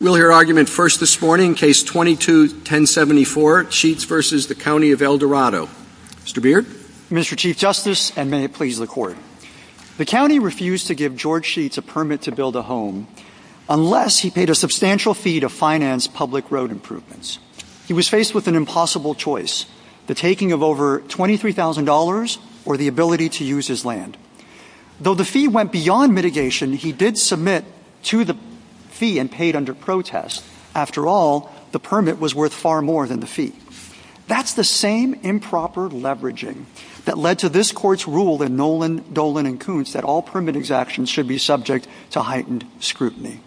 We'll hear argument first this morning, Case 22-1074, Sheetz v. County of El Dorado. Mr. Beard. Mr. Chief Justice, and may it please the Court. The County refused to give George Sheetz a permit to build a home unless he paid a substantial fee to finance public road improvements. He was faced with an impossible choice, the taking of over $23,000 or the ability to use his land. Though the fee went beyond mitigation, he did submit to the fee and paid under protest. After all, the permit was worth far more than the fee. That's the same improper leveraging that led to this court's rule in Nolan, Dolan, and Kuntz that all permit exactions should be subject to heightened scrutiny.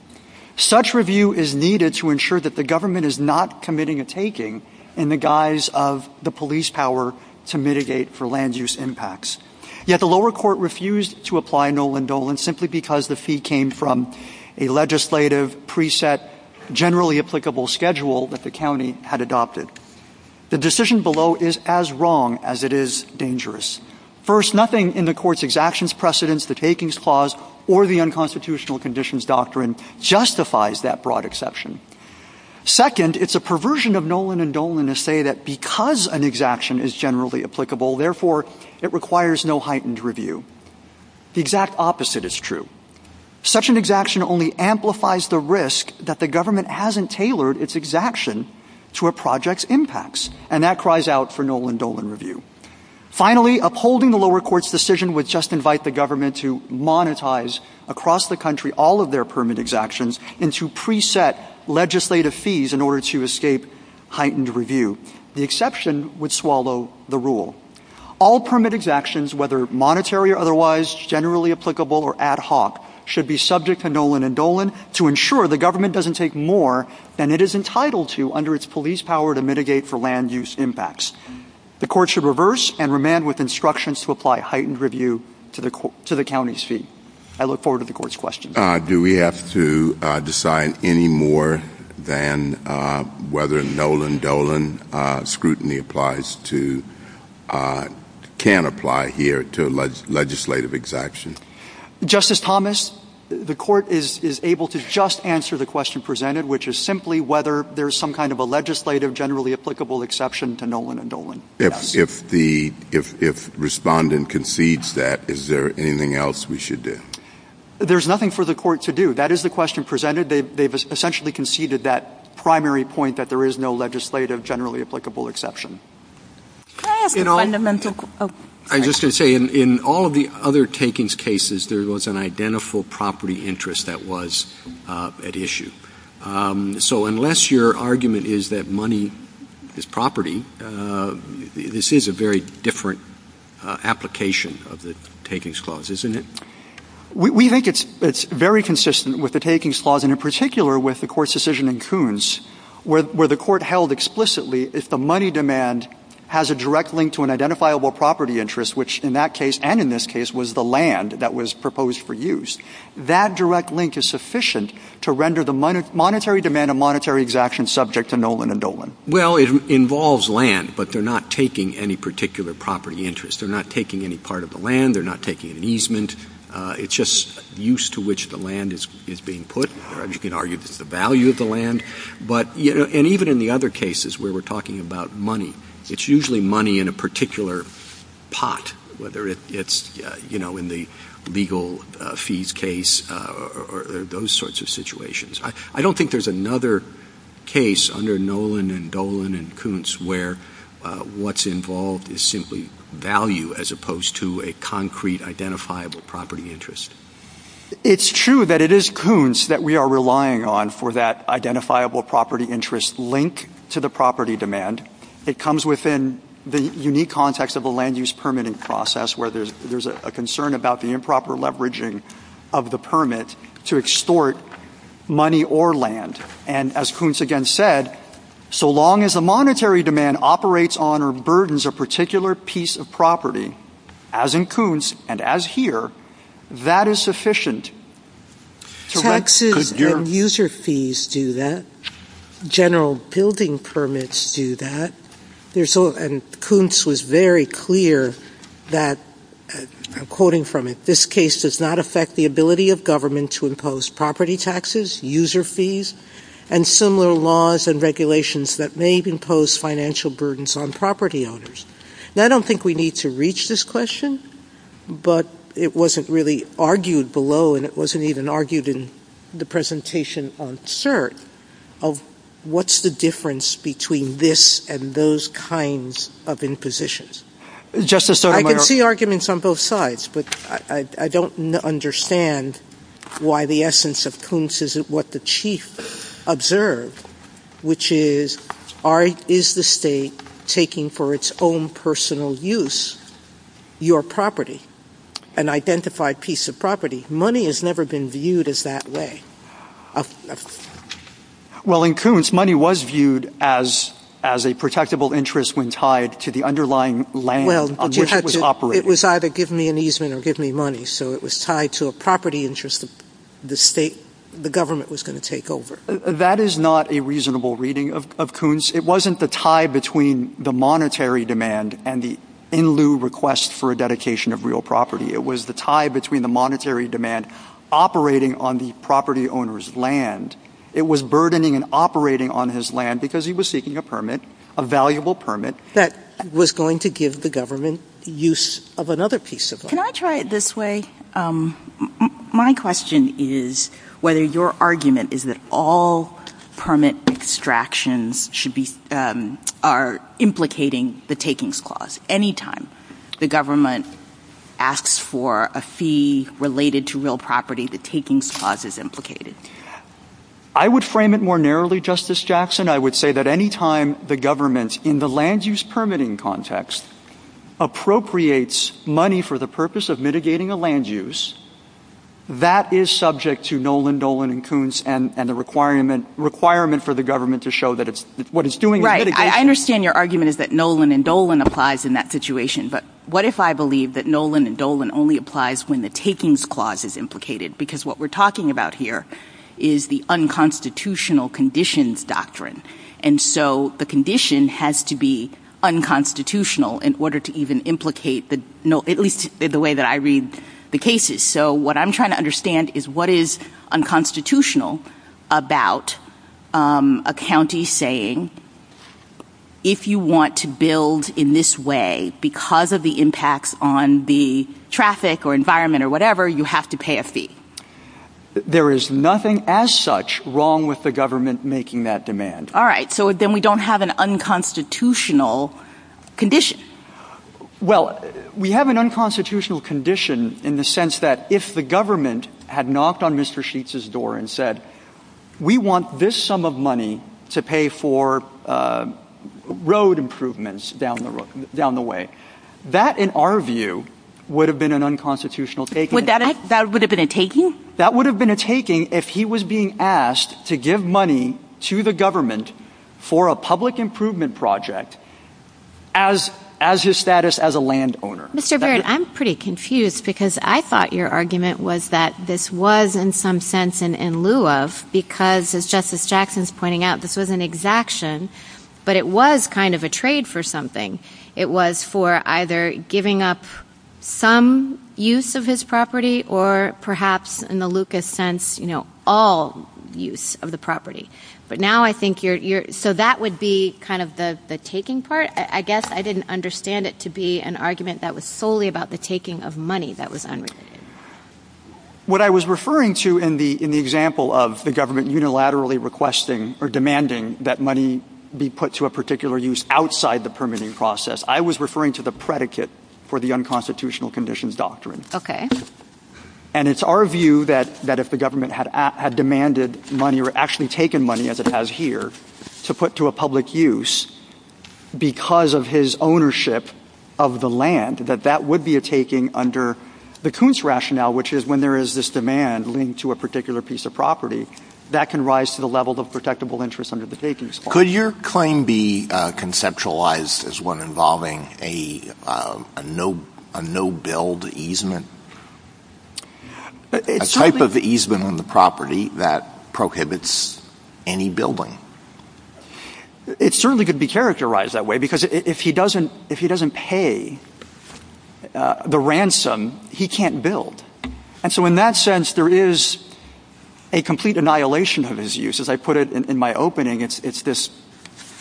Such review is needed to ensure that the government is not committing a taking in the guise of the police power to mitigate for land use impacts. Yet the lower court refused to apply Nolan, Dolan, simply because the fee came from a legislative pre-set, generally applicable schedule that the county had adopted. The decision below is as wrong as it is dangerous. First, nothing in the court's exactions precedence, the takings clause, or the unconstitutional conditions doctrine justifies that broad exception. Second, it's a perversion of Nolan and Dolan to say that because an exaction is generally applicable, therefore it requires no heightened review. The exact opposite is true. Such an exaction only amplifies the risk that the government hasn't tailored its exaction to a project's impacts, and that cries out for Nolan, Dolan review. Finally, upholding the lower court's decision would just invite the government to monetize across the country all of their permit exactions and to pre-set legislative fees in order to escape heightened review. The exception would swallow the rule. All permit exactions, whether monetary or otherwise, generally applicable or ad hoc, should be subject to Nolan and Dolan to ensure the government doesn't take more than it is entitled to under its police power to mitigate for land use impacts. The court should reverse and remand with instructions to apply heightened review to the county's fee. I look forward to the court's questions. Do we have to decide any more than whether Nolan, Dolan scrutiny applies to, can apply here to a legislative exaction? Justice Thomas, the court is able to just answer the question presented, which is simply whether there's some kind of a legislative, generally applicable exception to Nolan and Dolan. If the, if respondent concedes that, is there anything else we should do? There's nothing for the court to do. That is the question presented. They've essentially conceded that primary point that there is no legislative, generally applicable exception. I just can say in all of the other takings cases, there was an identical property interest that was at issue. So unless your argument is that money is property, this is a very different application of the takings clause, isn't it? We think it's very consistent with the takings clause, and in particular with the court's decision in Coons, where the court held explicitly if the money demand has a direct link to an identifiable property interest, which in that case, and in this case, was the land that was proposed for use. That direct link is sufficient to render the monetary demand and monetary exaction subject to Nolan and Dolan. Well, it involves land, but they're not taking any particular property interest. They're not taking any part of the land. They're not taking an easement. It's just use to which the land is being put. You can argue the value of the land, but, you know, and even in the other cases where we're talking about money, it's usually money in a particular pot, I don't think there's another case under Nolan and Dolan and Coons where what's involved is simply value as opposed to a concrete identifiable property interest. It's true that it is Coons that we are relying on for that identifiable property interest link to the property demand. It comes within the unique context of a land use permitting process where there's a concern about the improper leveraging of the permit to extort money or land. And as Coons again said, so long as the monetary demand operates on or burdens a particular piece of property, as in Coons and as here, that is sufficient to... Taxes and user fees do that. General building permits do that. And Coons was very clear that, I'm quoting from it, this case does not affect the ability of government to impose property taxes, user fees, and similar laws and regulations that may impose financial burdens on property owners. Now, I don't think we need to reach this question, but it wasn't really argued below and it wasn't even argued in the presentation on CERT of what's the difference between this and those kinds of impositions. Justice... I can see arguments on both sides, but I don't understand why the essence of Coons isn't what the Chief observed, which is, is the state taking for its own personal use your property, an identified piece of property? Money has never been viewed as that way. Well, in Coons, money was viewed as a protectable interest when tied to the underlying land on which it was operated. It was either give me an easement or give me money, so it was tied to a property interest that the state, the government was going to take over. That is not a reasonable reading of Coons. It wasn't the tie between the monetary demand and the in-lieu request for a dedication of real property. It was the tie between the monetary demand operating on the property owner's land. It was burdening and operating on his land because he was seeking a permit, a valuable permit... ..that was going to give the government the use of another piece of land. Can I try it this way? My question is whether your argument is that all permit extractions should be...are implicating the takings clause. Any time the government asks for a fee related to real property, the takings clause is implicated. I would frame it more narrowly, Justice Jackson. I would say that any time the government, in the land-use permitting context, appropriates money for the purpose of mitigating a land use, that is subject to Nolan, Dolan and Coons and the requirement for the government to show that what it's doing is mitigating... Right. I understand your argument is that Nolan and Dolan applies in that situation, but what if I believe that Nolan and Dolan only applies when the takings clause is implicated? Because what we're talking about here is the unconstitutional conditions doctrine. And so the condition has to be unconstitutional in order to even implicate the... ..at least the way that I read the cases. So what I'm trying to understand is what is unconstitutional about a county saying, if you want to build in this way because of the impacts on the traffic or environment or whatever, you have to pay a fee? There is nothing as such wrong with the government making that demand. All right, so then we don't have an unconstitutional condition. Well, we have an unconstitutional condition in the sense that if the government had knocked on Mr Sheets' door and said, we want this sum of money to pay for road improvements down the way, that, in our view, would have been an unconstitutional take. That would have been a taking? That would have been a taking if he was being asked to give money to the government for a public improvement project as his status as a landowner. Mr Barrett, I'm pretty confused because I thought your argument was that this was, in some sense, in lieu of because, as Justice Jackson's pointing out, this was an exaction, but it was kind of a trade for something. It was for either giving up some use of his property or perhaps, in the Lucas sense, all use of the property. But now I think you're... So that would be kind of the taking part? I guess I didn't understand it to be an argument that was solely about the taking of money that was unreasoned. What I was referring to in the example of the government unilaterally requesting or demanding that money be put to a particular use outside the permitting process, I was referring to the predicate for the unconstitutional conditions doctrine. OK. And it's our view that if the government had demanded money or actually taken money, as it has here, to put to a public use because of his ownership of the land, that that would be a taking under the Koonce rationale, which is when there is this demand linked to a particular piece of property, that can rise to the level of protectable interest under the takings. Could your claim be conceptualised as one involving a no-build easement? A type of easement on the property that prohibits any building. It certainly could be characterised that way because if he doesn't pay the ransom, he can't build. And so in that sense, there is a complete annihilation of his use. As I put it in my opening, it's this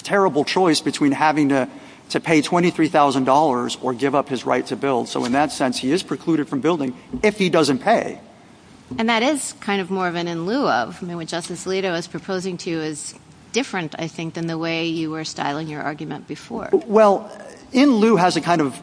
terrible choice between having to pay $23,000 or give up his right to build. So in that sense, he is precluded from building if he doesn't pay. And that is kind of more of an in lieu of. I mean, what Justice Alito is proposing to you is different, I think, than the way you were styling your argument before. Well, in lieu has a kind of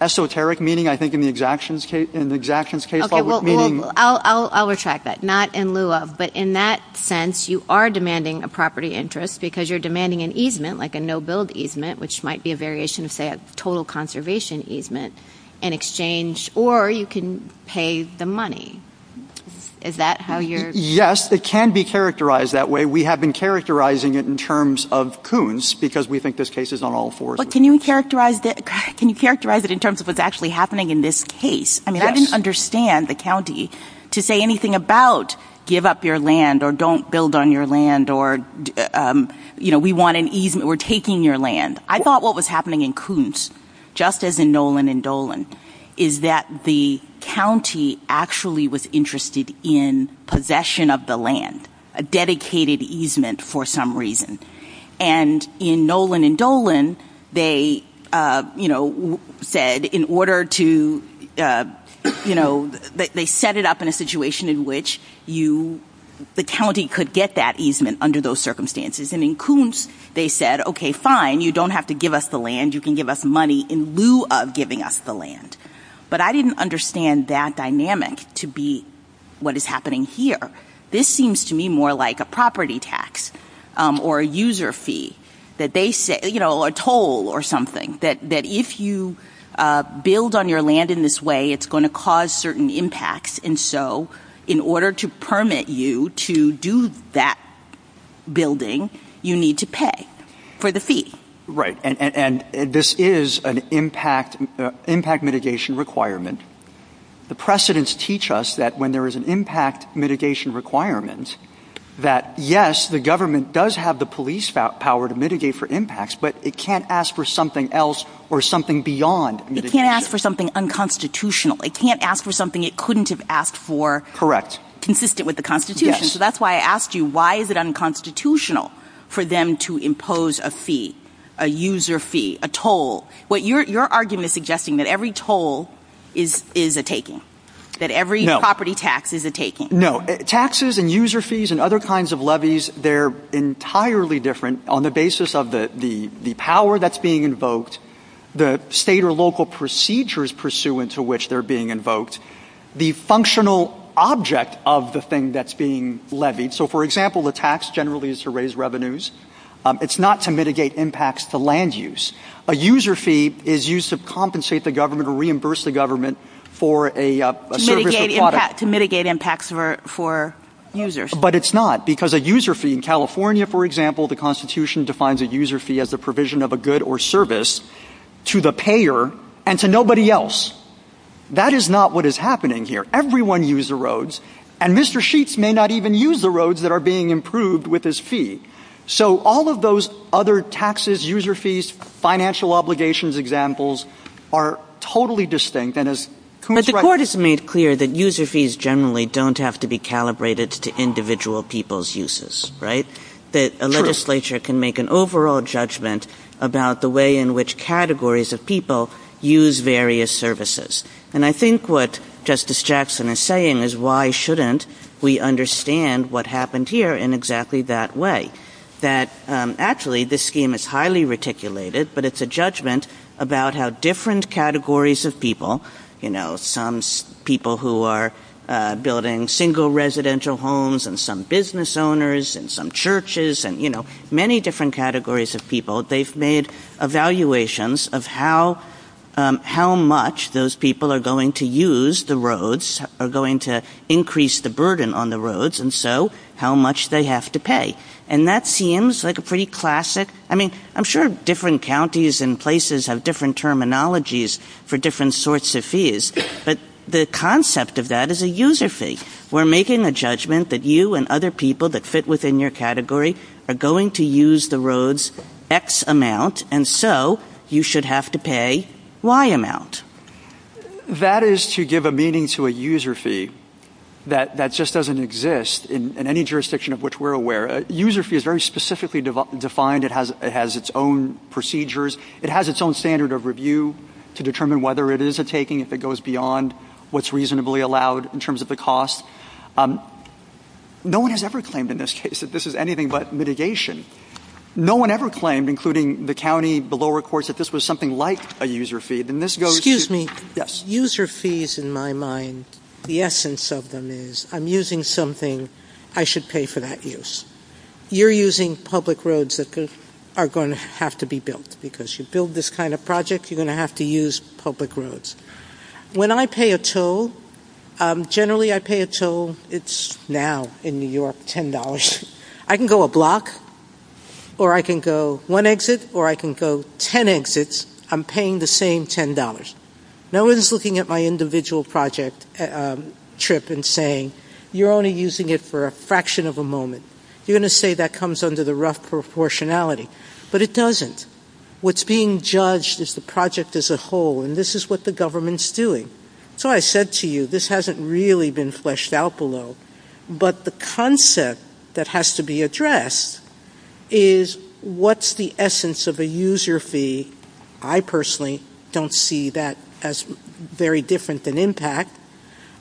esoteric meaning, I think, in the exactions case, in the exactions case, public meaning. I'll retract that. Not in lieu of. But in that sense, you are demanding a property interest because you're demanding an easement, like a no-build easement, which might be a variation, say, of total conservation easement, in exchange, or you can pay the money. Is that how you're...? Yes, it can be characterised that way. We have been characterising it in terms of Coons because we think this case is on all fours. But can you characterise it in terms of what's actually happening in this case? I mean, I don't understand the county to say anything about give up your land or don't build on your land or, you know, we want an easement, we're taking your land. I thought what was happening in Coons, just as in Nolan and Dolan, is that the county actually was interested in possession of the land, a dedicated easement for some reason. And in Nolan and Dolan, they, you know, said in order to, you know, they set it up in a situation in which you, the county could get that easement under those circumstances. And in Coons, they said, OK, fine, you don't have to give us the land, you can give us money in lieu of giving us the land. But I didn't understand that dynamic to be what is happening here. This seems to me more like a property tax or a user fee that they say, you know, a toll or something that if you build on your land in this way, it's going to cause certain impacts. And so in order to permit you to do that building, you need to pay for the fee. Right. And this is an impact, impact mitigation requirement. The precedents teach us that when there is an impact mitigation requirements that, yes, the government does have the police power to mitigate for impacts, but it can't ask for something else or something beyond. It can't ask for something unconstitutional. It can't ask for something it couldn't have asked for. Correct. Consistent with the Constitution. So that's why I ask you, why is it unconstitutional for them to impose a fee, a user fee, a toll? What your argument is suggesting that every toll is is a taking that every property tax is a taking. No taxes and user fees and other kinds of levies. They're entirely different on the basis of the the the power that's being invoked, the state or local procedures pursuant to which they're being invoked, the functional object of the thing that's being levied. So, for example, the tax generally is to raise revenues. It's not to mitigate impacts to land use. A user fee is used to compensate the government or reimburse the government for a mitigate impact to mitigate impacts for for users. But it's not because a user fee in California, for example, the Constitution defines a user fee as the provision of a good or service to the payer and to nobody else. That is not what is happening here. Everyone use the roads. And Mr. Sheets may not even use the roads that are being improved with this fee. So all of those other taxes, user fees, financial obligations examples are totally distinct. And as the court has made clear, that user fees generally don't have to be calibrated to individual people's uses. Right. That a legislature can make an overall judgment about the way in which categories of people use various services. And I think what Justice Jackson is saying is, why shouldn't we understand what happened here in exactly that way? That actually this scheme is highly reticulated, but it's a judgment about how different categories of people, you know, some people who are building single residential homes and some business owners and some churches and, you know, many different categories of people, they've made evaluations of how how much those people are going to use. The roads are going to increase the burden on the roads. And so how much they have to pay. And that seems like a pretty classic. I mean, I'm sure different counties and places have different terminologies for different sorts of fees. But the concept of that is a user fee. We're making a judgment that you and other people that fit within your category are going to use the roads X amount. And so you should have to pay Y amount. That is to give a meaning to a user fee that that just doesn't exist in any jurisdiction of which we're aware. User fee is very specifically defined. It has it has its own procedures. It has its own standard of review to determine whether it is a taking if it goes beyond what's reasonably allowed in terms of the cost. No one has ever claimed in this case that this is anything but mitigation. No one ever claimed, including the county, the lower courts, that this was something like a user fee. And this goes, excuse me, yes, user fees in my mind. The essence of them is I'm using something I should pay for that use. You're using public roads that are going to have to be built because you build this kind of project. You're going to have to use public roads. When I pay a toll, generally I pay a toll. It's now in New York $10. I can go a block or I can go one exit or I can go 10 exits. I'm paying the same $10. No one's looking at my individual project trip and saying, you're only using it for a fraction of a moment. You're going to say that comes under the rough proportionality. But it doesn't. What's being judged is the project as a whole. And this is what the government's doing. So I said to you, this hasn't really been fleshed out below. But the concept that has to be addressed is what's the essence of a user fee. I personally don't see that as very different than impact.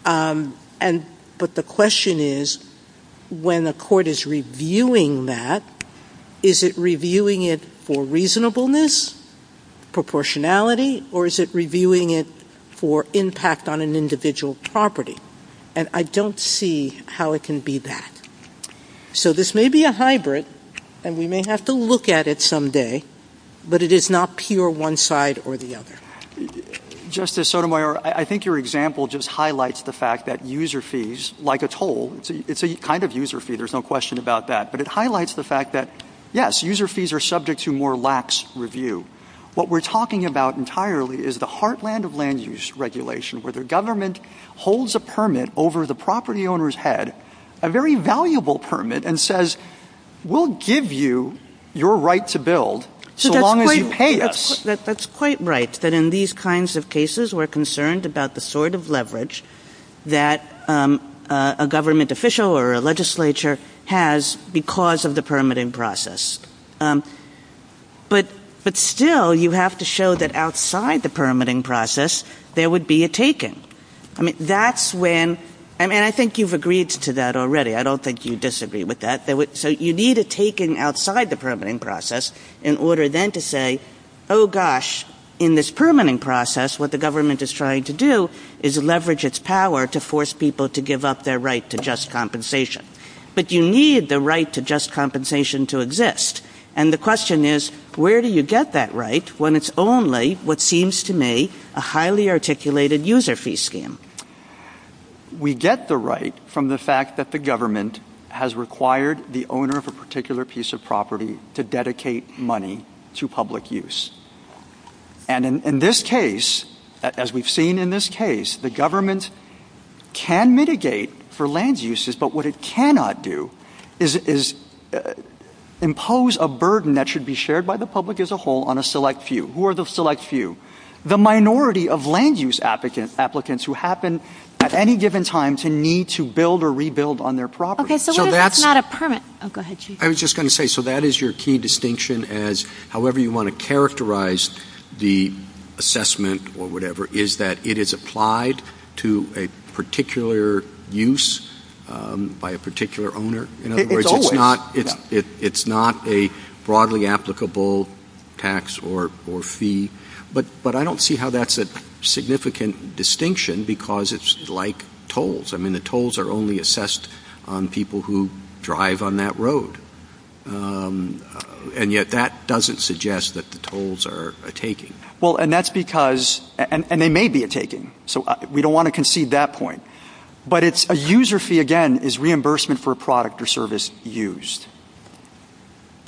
But the question is when a court is reviewing that, is it reviewing it for reasonableness, proportionality, or is it reviewing it for impact on an individual property? And I don't see how it can be that. So this may be a hybrid and we may have to look at it someday, but it is not pure one side or the other. Justice Sotomayor, I think your example just highlights the fact that user fees, like a toll, it's a kind of user fee. There's no question about that. But it highlights the fact that, yes, user fees are subject to more lax review. What we're talking about entirely is the heartland of land use regulation where the government holds a permit over the property owner's head, a very valuable permit, and says, we'll give you your right to build so long as you pay us. That's quite right, that in these kinds of cases, we're concerned about the sort of leverage that a government official or a legislature has because of the permitting process. But still, you have to show that outside the permitting process, there would be a taking. I mean, that's when, I mean, I think you've agreed to that already. I don't think you disagree with that. So you need a taking outside the permitting process in order then to say, oh gosh, in this permitting process, what the government is trying to do is leverage its power to force people to give up their right to just compensation. But you need the right to just compensation to exist. And the question is, where do you get that right when it's only what seems to me a highly articulated user fee scheme? We get the right from the fact that the government has required the owner of a particular piece of property to dedicate money to public use. And in this case, as we've seen in this case, the government can mitigate for land uses, but what it cannot do is impose a burden that should be shared by the public as a whole on a select few. Who are the select few? The minority of land use applicants who happen at any given time to need to build or rebuild on their property. So that's not a permit. Oh, go ahead, Chief. I was just going to say, so that is your key distinction as however you want to characterize the assessment or whatever is that it is applied to a particular use by a particular owner. In other words, it's not a broadly applicable tax or fee. But I don't see how that's a significant distinction because it's like tolls. I mean, the tolls are only assessed on people who drive on that road. And yet that doesn't suggest that the tolls are a taking. Well, and that's because, and they may be a taking. So we don't want to concede that point. But it's a user fee again is reimbursement for a product or service used.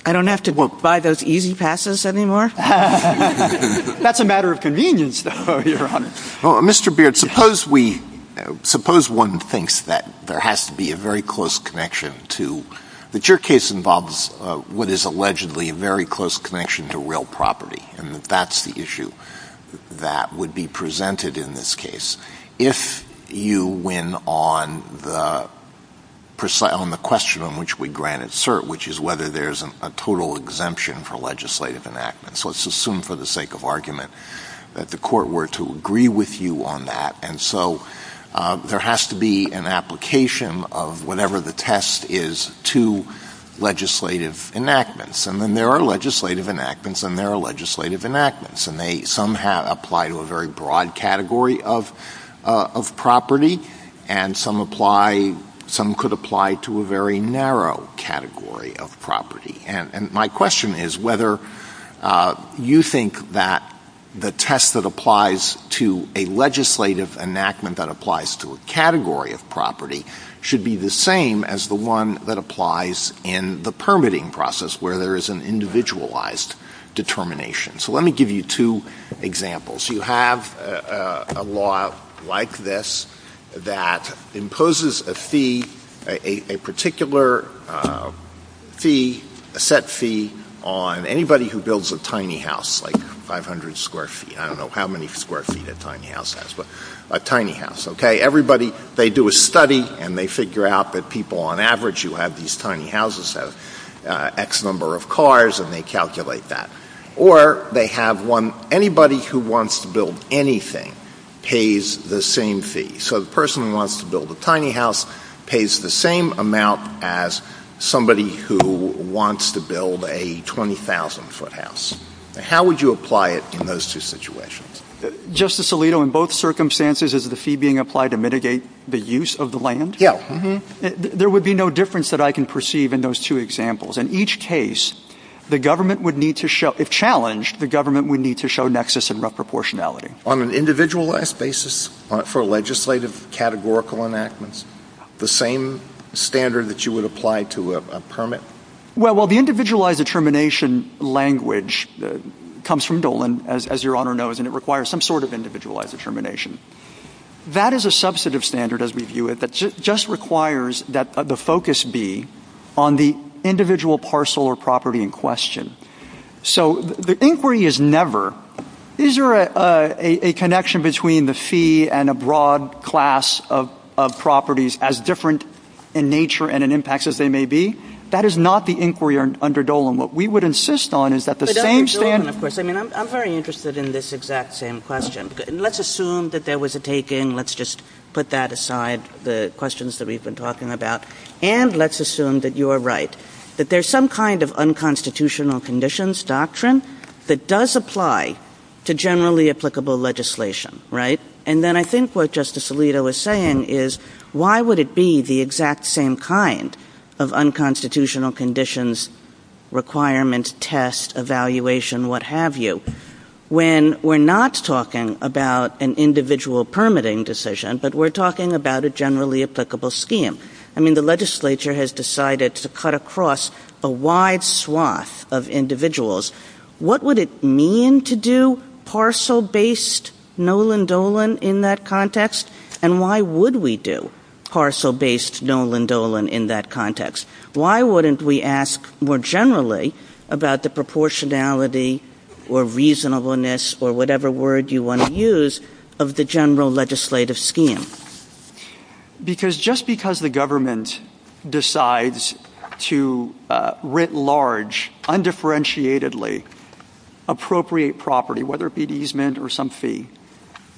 I don't have to buy those easy passes anymore. That's a matter of convenience, though, Your Honor. Well, Mr. Beard, suppose we, suppose one thinks that there has to be a very close connection to, that your case involves what is allegedly a very close connection to real property. And that's the issue that would be presented in this case. If you win on the question on which we granted cert, which is whether there's a total exemption for legislative enactments. Let's assume for the sake of argument that the court were to agree with you on that. And so there has to be an application of whatever the test is to legislative enactments. And then there are legislative enactments and there are legislative enactments. And they, some have applied to a very broad category of property. And some apply, some could apply to a very narrow category of property. And my question is whether you think that the test that applies to a legislative enactment that applies to a category of property should be the same as the one that applies in the permitting process where there is an individualized determination. So let me give you two examples. You have a law like this that imposes a fee, a particular fee, a set fee on anybody who builds a tiny house, like 500 square feet. I don't know how many square feet a tiny house has, but a tiny house, okay. Everybody, they do a study and they figure out that people on average who have these tiny houses have X number of cars and they calculate that. Or they have one, anybody who wants to build anything pays the same fee. So the person who wants to build a tiny house pays the same amount as somebody who wants to build a 20,000-foot house. How would you apply it in those two situations? Justice Alito, in both circumstances is the fee being applied to mitigate the use of the land? Yeah. There would be no difference that I can perceive in those two examples. In each case, the government would need to show, if challenged, the government would need to show nexus and reproportionality. On an individualized basis for legislative categorical enactments, the same standard that you would apply to a permit? Well, the individualized determination language comes from Dolan, as your Honor knows, and it requires some sort of individualized determination. That is a substantive standard as we view it that just requires that the focus be on the individual parcel or property in question. So the inquiry is never. These are a connection between the fee and a broad class of properties as different in nature and in impacts as they may be. That is not the inquiry under Dolan. What we would insist on is that the same standard. But under Dolan, of course, I mean, I'm very interested in this exact same question. Let's assume that there was a take in. Let's just put that aside, the questions that we've been talking about. And let's assume that you are right, that there's some kind of unconstitutional conditions doctrine that does apply to generally applicable legislation, right? And then I think what Justice Alito was saying is why would it be the exact same kind of unconstitutional conditions, requirements, test, evaluation, what have you, when we're not talking about an individual permitting decision, but we're talking about a generally applicable scheme. I mean, the legislature has decided to cut across a wide swath of individuals. What would it mean to do parcel-based Nolan Dolan in that context? And why would we do parcel-based Nolan Dolan in that context? Why wouldn't we ask more generally about the proportionality or reasonableness or whatever word you want to use of the general legislative scheme? Because just because the government decides to writ large, undifferentiatedly, appropriate property, whether it be an easement or some fee,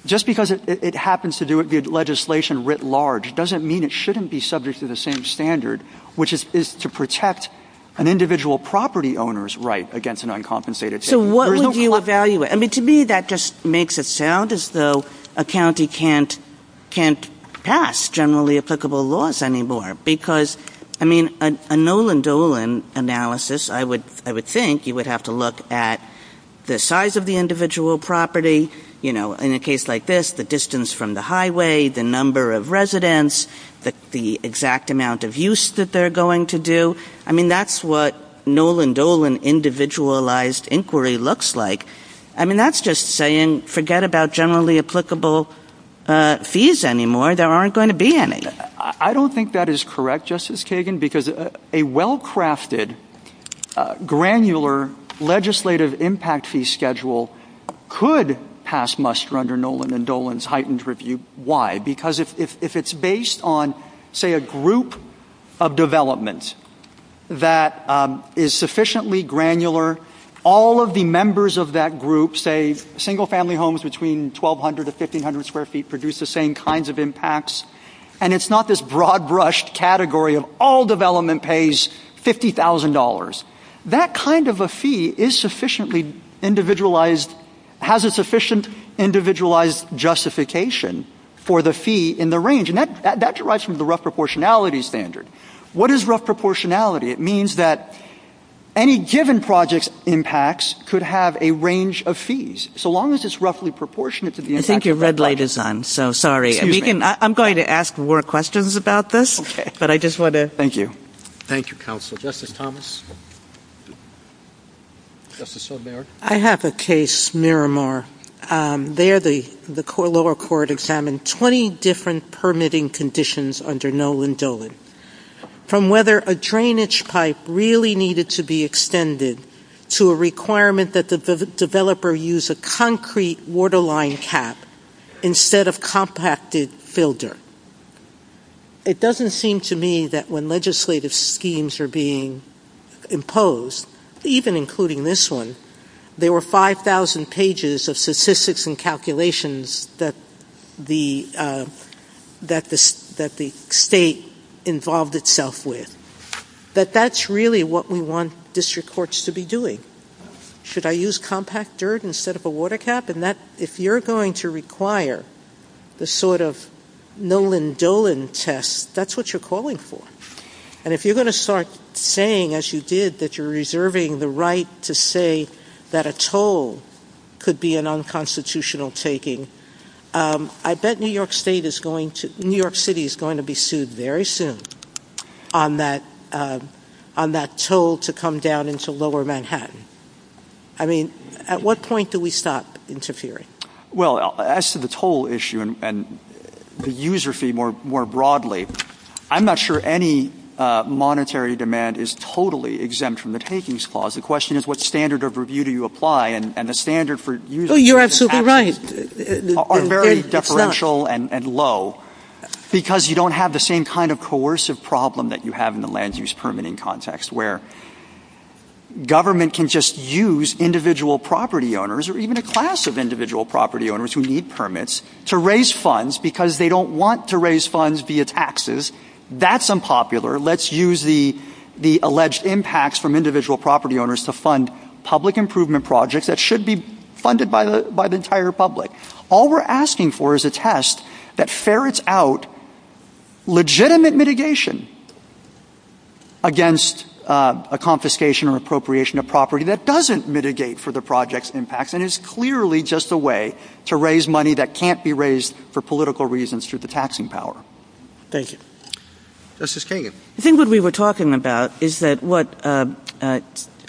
just because it happens to do it via legislation writ large doesn't mean it shouldn't be subject to the same standard, which is to protect an individual property owner's right against an uncompensated tax. So what would you evaluate? I mean, to me, that just makes it sound as though a county can't pass generally applicable laws anymore because, I mean, a Nolan Dolan analysis, I would think you would have to look at the size of the individual property, you know, in a case like this, the distance from the highway, the number of residents, the exact amount of use that they're going to do. I mean, that's what Nolan Dolan individualized inquiry looks like. I mean, that's just saying forget about generally applicable fees anymore. There aren't going to be any. I don't think that is correct, Justice Kagan, because a well-crafted, granular legislative impact fee schedule could pass muster under Nolan and Dolan's heightened review. Why? Because if it's based on, say, a group of developments, that is sufficiently granular, all of the members of that group, say, single-family homes between 1,200 to 1,500 square feet, produce the same kinds of impacts. And it's not this broad-brushed category of all development pays $50,000. That kind of a fee is sufficiently individualized, has a sufficient individualized justification for the fee in the range. And that derives from the rough proportionality standard. What is rough proportionality? It means that any given project's impacts could have a range of fees, so long as it's roughly proportionate to the impact of that project. I think your red light is on, so sorry. I'm going to ask more questions about this, but I just want to. Thank you. Thank you, Counsel. Justice Thomas. Justice O'Mara. I have a case, Miramar. There, the lower court examined 20 different permitting conditions under Nolan Dolan. From whether a drainage pipe really needed to be extended to a requirement that the developer use a concrete waterline cap instead of compacted filter. It doesn't seem to me that when legislative schemes are being imposed, even including this one, there were 5,000 pages of statistics and calculations that the state involved itself with. That that's really what we want district courts to be doing. Should I use compact dirt instead of a water cap? And that, if you're going to require the sort of Nolan Dolan test, that's what you're calling for. And if you're going to start saying, as you did, that you're reserving the right to say that a toll could be an unconstitutional taking. I bet New York State is going to, New York City is going to be sued very soon on that toll to come down into lower Manhattan. I mean, at what point do we stop interfering? Well, as to the toll issue and the user fee more broadly, I'm not sure any monetary demand is totally exempt from the takings clause. The question is, what standard of review do you apply? And the standard for using taxes are very differential and low because you don't have the same kind of coercive problem that you have in the land use permitting context where government can just use individual property owners or even a class of individual property owners who need permits to raise funds because they don't want to raise funds via taxes. That's unpopular. Let's use the alleged impacts from individual property owners to fund public improvement projects that should be funded by the entire public. All we're asking for is a test that ferrets out legitimate mitigation against a confiscation or appropriation of property that doesn't mitigate for the project's impact and is clearly just a way to raise money that can't be raised for political reasons through the taxing power. Thank you. Justice Kagan. I think what we were talking about is that what a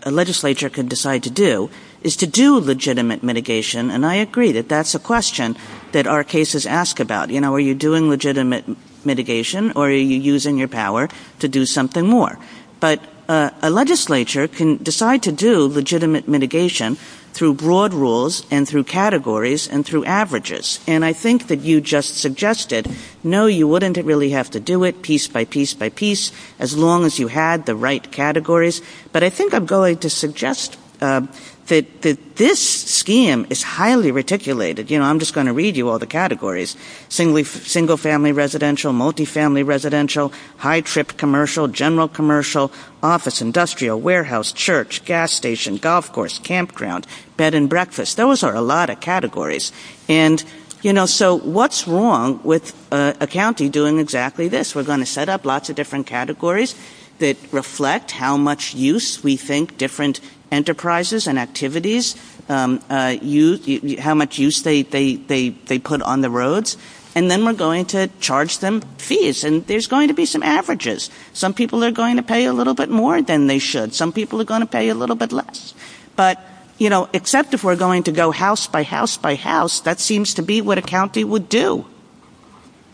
legislature could decide to do is to do legitimate mitigation and I agree that that's a question that our cases ask about. You know, are you doing legitimate mitigation or are you using your power to do something more? But a legislature can decide to do legitimate mitigation through broad rules and through categories and through averages. And I think that you just suggested, no, you wouldn't really have to do it piece by piece by piece as long as you had the right categories. But I think I'm going to suggest that this scheme is highly reticulated. You know, I'm just going to read you all the categories. Single family residential, multifamily residential, high trip commercial, general commercial, office industrial, warehouse, church, gas station, golf course, campground, bed and breakfast. Those are a lot of categories. And, you know, so what's wrong with a county doing exactly this? We're going to set up lots of different categories that reflect how much use we think different enterprises and activities use, how much use they put on the roads and then we're going to charge them fees. And there's going to be some averages. Some people are going to pay a little bit more than they should. Some people are going to pay a little bit less. But, you know, except if we're going to go house by house by house, that seems to be what a county would do.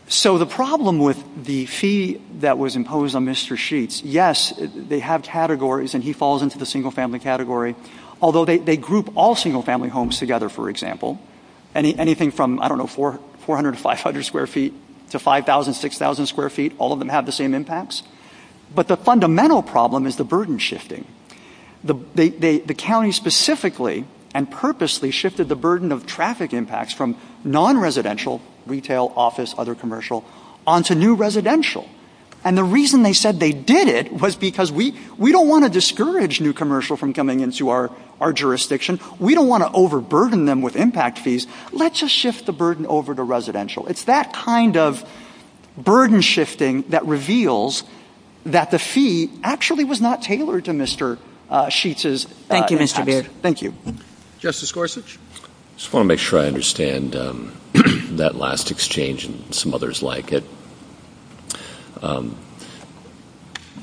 So the problem with the fee that was imposed on Mr. Sheets, yes, they have categories and he falls into the single family category, although they group all single family homes together, for example. Anything from, I don't know, 400 to 500 square feet to 5,000, 6,000 square feet, all of them have the same impacts. But the fundamental problem is the burden shifting. The county specifically and purposely shifted the burden of traffic impacts from non-residential, retail, office, other commercial, onto new residential. And the reason they said they did it was because we don't want to discourage new commercial from coming into our jurisdiction. We don't want to overburden them with impact fees. Let's just shift the burden over to residential. It's that kind of burden shifting that reveals that the fee actually was not tailored to Mr. Sheets's. Thank you, Mr. Baird. Thank you. Justice Gorsuch? I just want to make sure I understand that last exchange and some others like it.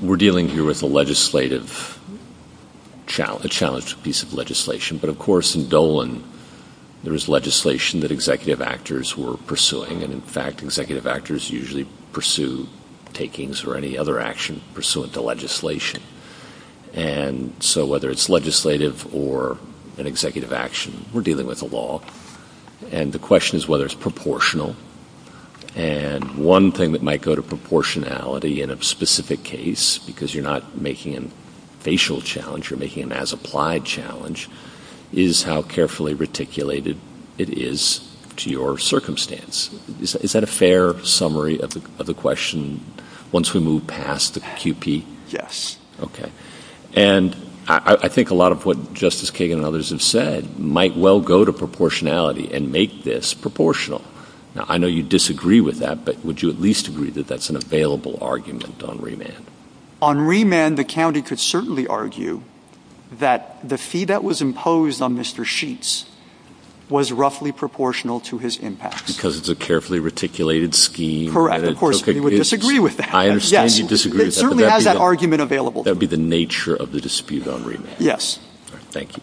We're dealing here with a legislative challenge, a piece of legislation. But, of course, in Dolan, there is legislation that executive actors were pursuing. And, in fact, executive actors usually pursue takings or any other action pursuant to legislation. And so whether it's legislative or an executive action, we're dealing with the law. And the question is whether it's proportional. And one thing that might go to proportionality in a specific case because you're not making a facial challenge, you're making an as-applied challenge, is how carefully reticulated it is to your circumstance. Is that a fair summary of the question once we move past the QP? Yes. Okay. And I think a lot of what Justice Kagan and others have said might well go to proportionality and make this proportional. Now, I know you disagree with that, but would you at least agree that that's an available argument on remand? On remand, the county could certainly argue that the fee that was imposed on Mr. Sheets was roughly proportional to his impacts. Because it's a carefully reticulated scheme. Correct. Of course, we would disagree with that. I understand you disagree with that. Yes. It certainly has that argument available. That would be the nature of the dispute on remand. Yes. Thank you.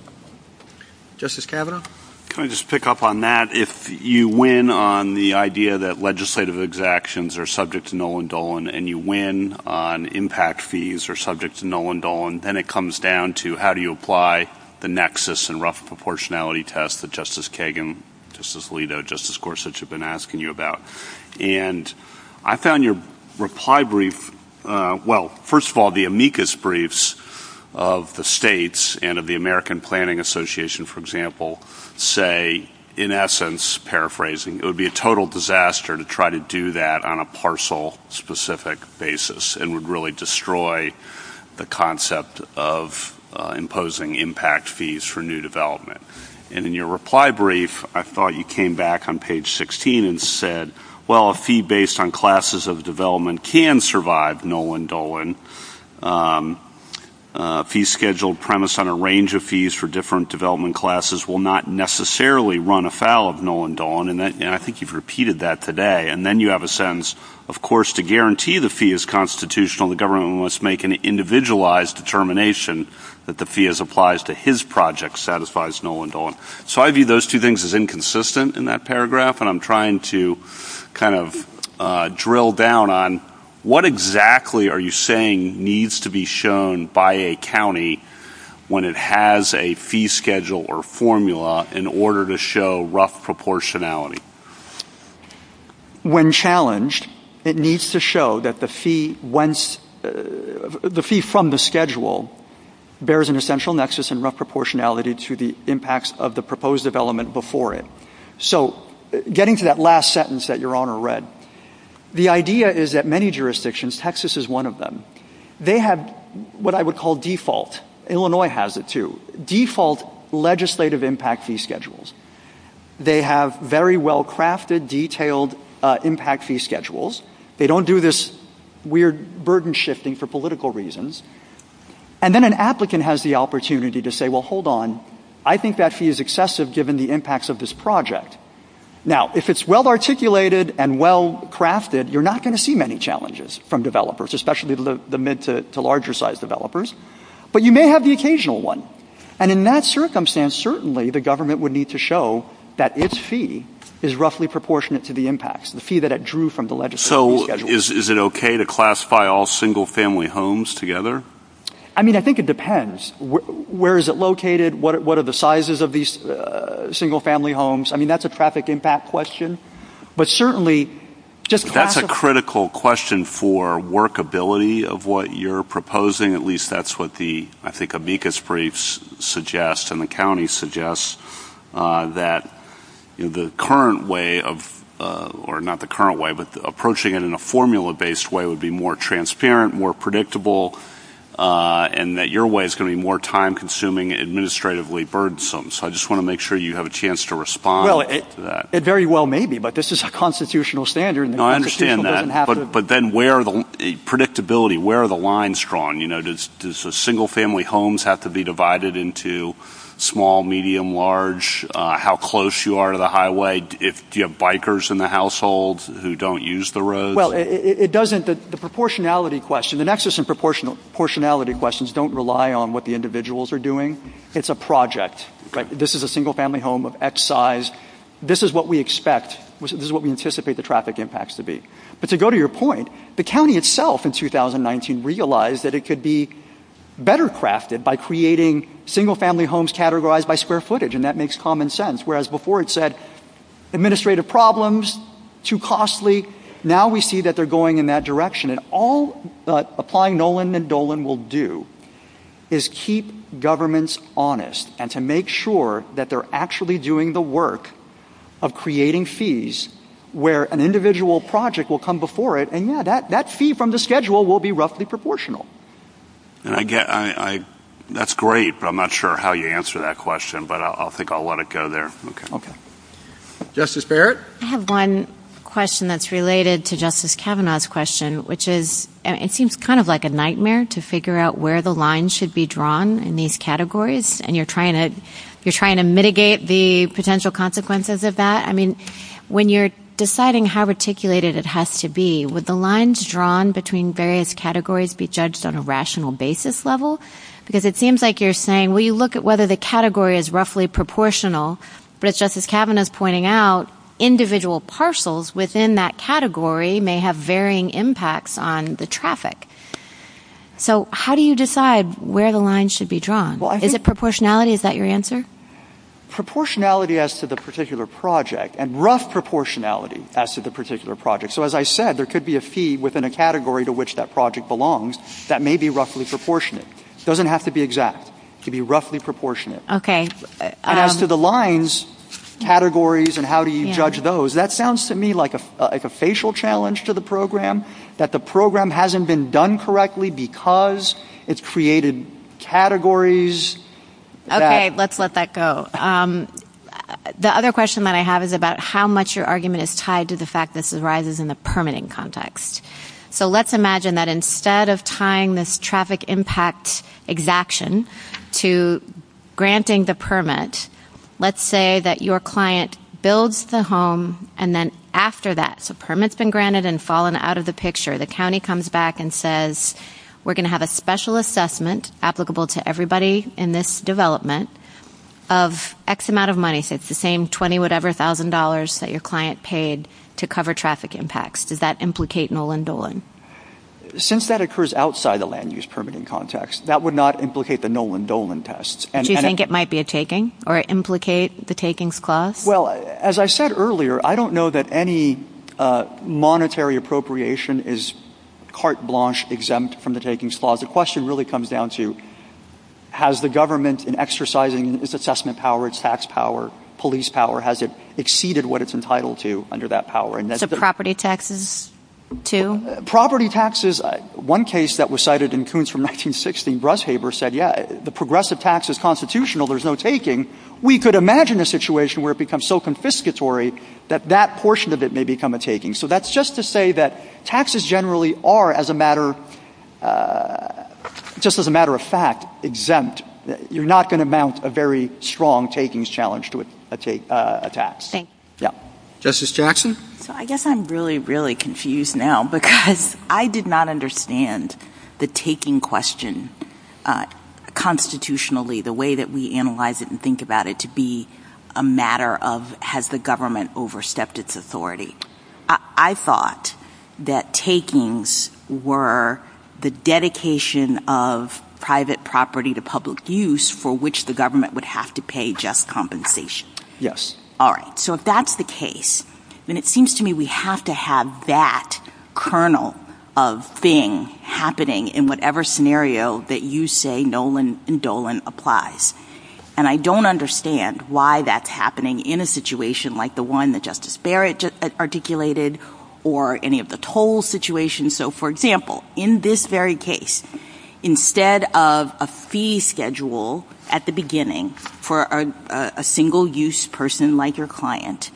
Justice Kavanaugh? Can I just pick up on that? If you win on the idea that legislative actions are subject to null and dull, and you win on impact fees are subject to null and dull, and then it comes down to how do you apply the nexus and rough proportionality test that Justice Kagan, Justice Alito, Justice Gorsuch have been asking you about. And I found your reply brief, well, first of all, the amicus briefs of the states and of the American Planning Association, for example, say, in essence, paraphrasing, it would be a total disaster to try to do that on a parcel-specific basis and would really destroy the concept of imposing impact fees for new development. And in your reply brief, I thought you came back on page 16 and said, well, a fee based on classes of development can survive null and dull. And a fee-scheduled premise on a range of fees for different development classes will not necessarily run afoul of null and dull. And I think you've repeated that today. And then you have a sentence, of course, to guarantee the fee is constitutional, to his project satisfies null and dull. So I view those two things as inconsistent in that paragraph. And I'm trying to kind of drill down on what exactly are you saying needs to be shown by a county when it has a fee schedule or formula in order to show rough proportionality? When challenged, it needs to show that the fee from the schedule bears an essential nexus and rough proportionality to the impacts of the proposed development before it. So getting to that last sentence that Your Honor read, the idea is that many jurisdictions, Texas is one of them, they have what I would call default, Illinois has it too, default legislative impact fee schedules. They have very well-crafted, detailed impact fee schedules. They don't do this weird burden shifting for political reasons. And then an applicant has the opportunity to say, well, hold on, I think that fee is excessive given the impacts of this project. Now, if it's well-articulated and well-crafted, you're not going to see many challenges from developers, especially the mid to larger size developers. But you may have the occasional one. And in that circumstance, certainly the government would need to show that its fee is roughly proportionate to the impacts, the fee that it drew from the legislative schedule. So is it okay to classify all single-family homes together? I mean, I think it depends. Where is it located? What are the sizes of these single-family homes? I mean, that's a traffic impact question. But certainly just classify... That's a critical question for workability of what you're proposing. At least that's what the, I think, amicus briefs suggest and the county suggests that the current way of, or not the current way, but approaching it in a formula-based way would be more transparent, more predictable, and that your way is going to be more time-consuming, administratively burdensome. So I just want to make sure you have a chance to respond to that. It very well may be, but this is a constitutional standard. No, I understand that. But then where are the, predictability, where are the lines drawn? You know, does the single-family homes have to be divided into small, medium, large, how close you are to the highway? Do you have bikers in the household who don't use the roads? Well, it doesn't... The proportionality question, the nexus in proportionality questions don't rely on what the individuals are doing. It's a project. Like, this is a single-family home of X size. This is what we expect. This is what we anticipate the traffic impacts to be. But to go to your point, the county itself in 2019 realised that it could be better crafted by creating single-family homes categorised by square footage, and that makes common sense, whereas before it said, administrative problems, too costly. Now we see that they're going in that direction. And all Applying Nolan and Dolan will do is keep governments honest and to make sure that they're actually doing the work of creating fees where an individual project will come before it, and, yeah, that fee from the schedule will be roughly proportional. And I get... That's great, but I'm not sure how you answer that question, but I think I'll let it go there. OK. OK. Justice Barrett? I have one question that's related to Justice Kavanaugh's question, which is... It seems kind of like a nightmare to figure out where the lines should be drawn in these categories, and you're trying to... You're trying to mitigate the potential consequences of that. I mean, when you're deciding how articulated it has to be, would the lines drawn between various categories be judged on a rational basis level? Because it seems like you're saying, well, you look at whether the category is roughly proportional, but as Justice Kavanaugh's pointing out, individual parcels within that category may have varying impacts on the traffic. So how do you decide where the lines should be drawn? Is it proportionality? Is that your answer? Proportionality as to the particular project, and rough proportionality as to the particular project. So, as I said, there could be a feed within a category to which that project belongs that may be roughly proportionate. It doesn't have to be exact. It could be roughly proportionate. OK. As to the lines, categories, and how do you judge those, that sounds to me like a facial challenge to the programme, that the programme hasn't been done correctly because it's created categories... OK, let's let that go. The other question that I have is about how much your argument is tied to the fact this arises in the permitting context. So let's imagine that instead of tying this traffic impact exaction to granting the permit, let's say that your client builds the home and then after that, so permit's been granted and fallen out of the picture, the county comes back and says, we're going to have a special assessment applicable to everybody in this development of X amount of money, so it's the same $20-whatever-thousand that your client paid to cover traffic impacts. Does that implicate Nolan Dolan? Since that occurs outside the land-use permitting context, that would not implicate the Nolan Dolan tests. Do you think it might be a taking or implicate the takings clause? Well, as I said earlier, I don't know that any monetary appropriation is carte blanche exempt from the takings clause. The question really comes down to, has the government, in exercising its assessment power, its tax power, police power, has it exceeded what it's entitled to under that power? So property taxes, too? Property taxes... One case that was cited in Coons from 1916, Brushaver said, yeah, the progressive tax is constitutional, there's no taking. We could imagine a situation where it becomes so confiscatory that that portion of it may become a taking. So that's just to say that taxes generally are, as a matter... ..just as a matter of fact, exempt. You're not going to mount a very strong takings challenge to a tax. Thank you. Justice Jackson? I guess I'm really, really confused now, because I did not understand the taking question constitutionally, the way that we analyse it and think about it, to be a matter of, has the government overstepped its authority? I thought that takings were the dedication of private property to public use for which the government would have to pay just compensation. Yes. Alright. So if that's the case, then it seems to me we have to have that kernel of thing happening in whatever scenario that you say Nolan and Dolan applies. And I don't understand why that's happening in a situation like the one that Justice Barrett articulated or any of the toll situations. So, for example, in this very case, instead of a fee schedule at the beginning for a single-use person like your client,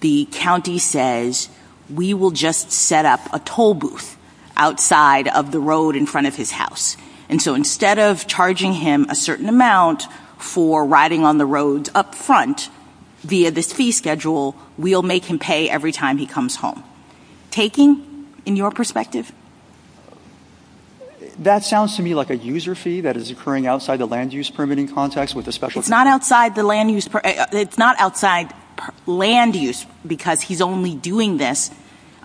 the county says we will just set up a toll booth outside of the road in front of his house. And so instead of charging him a certain amount for riding on the roads up front via this fee schedule, we'll make him pay every time he comes home. Taking in your perspective. That sounds to me like a user fee that is occurring outside the land-use permitting context with a special... It's not outside the land-use... It's not outside land-use because he's only doing this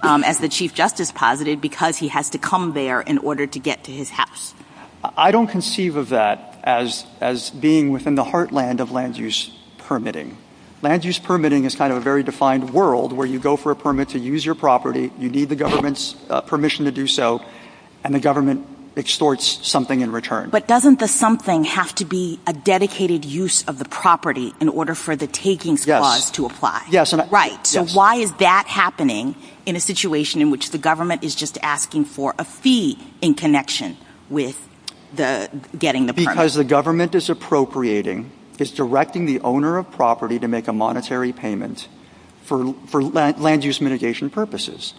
as the Chief Justice positive because he has to come there in order to get to his house. I don't conceive of that as being within the heartland of land-use permitting. Land-use permitting is kind of a very defined world where you go for a permit to use your property, you need the government's permission to do so, and the government extorts something in return. But doesn't the something have to be a dedicated use of the property in order for the taking clause to apply? Yes. So why is that happening in a situation in which the government is just asking for a fee in connection with getting the permit? Because the government is appropriating, is directing the owner of property to make a monetary payment for land-use mitigation purposes.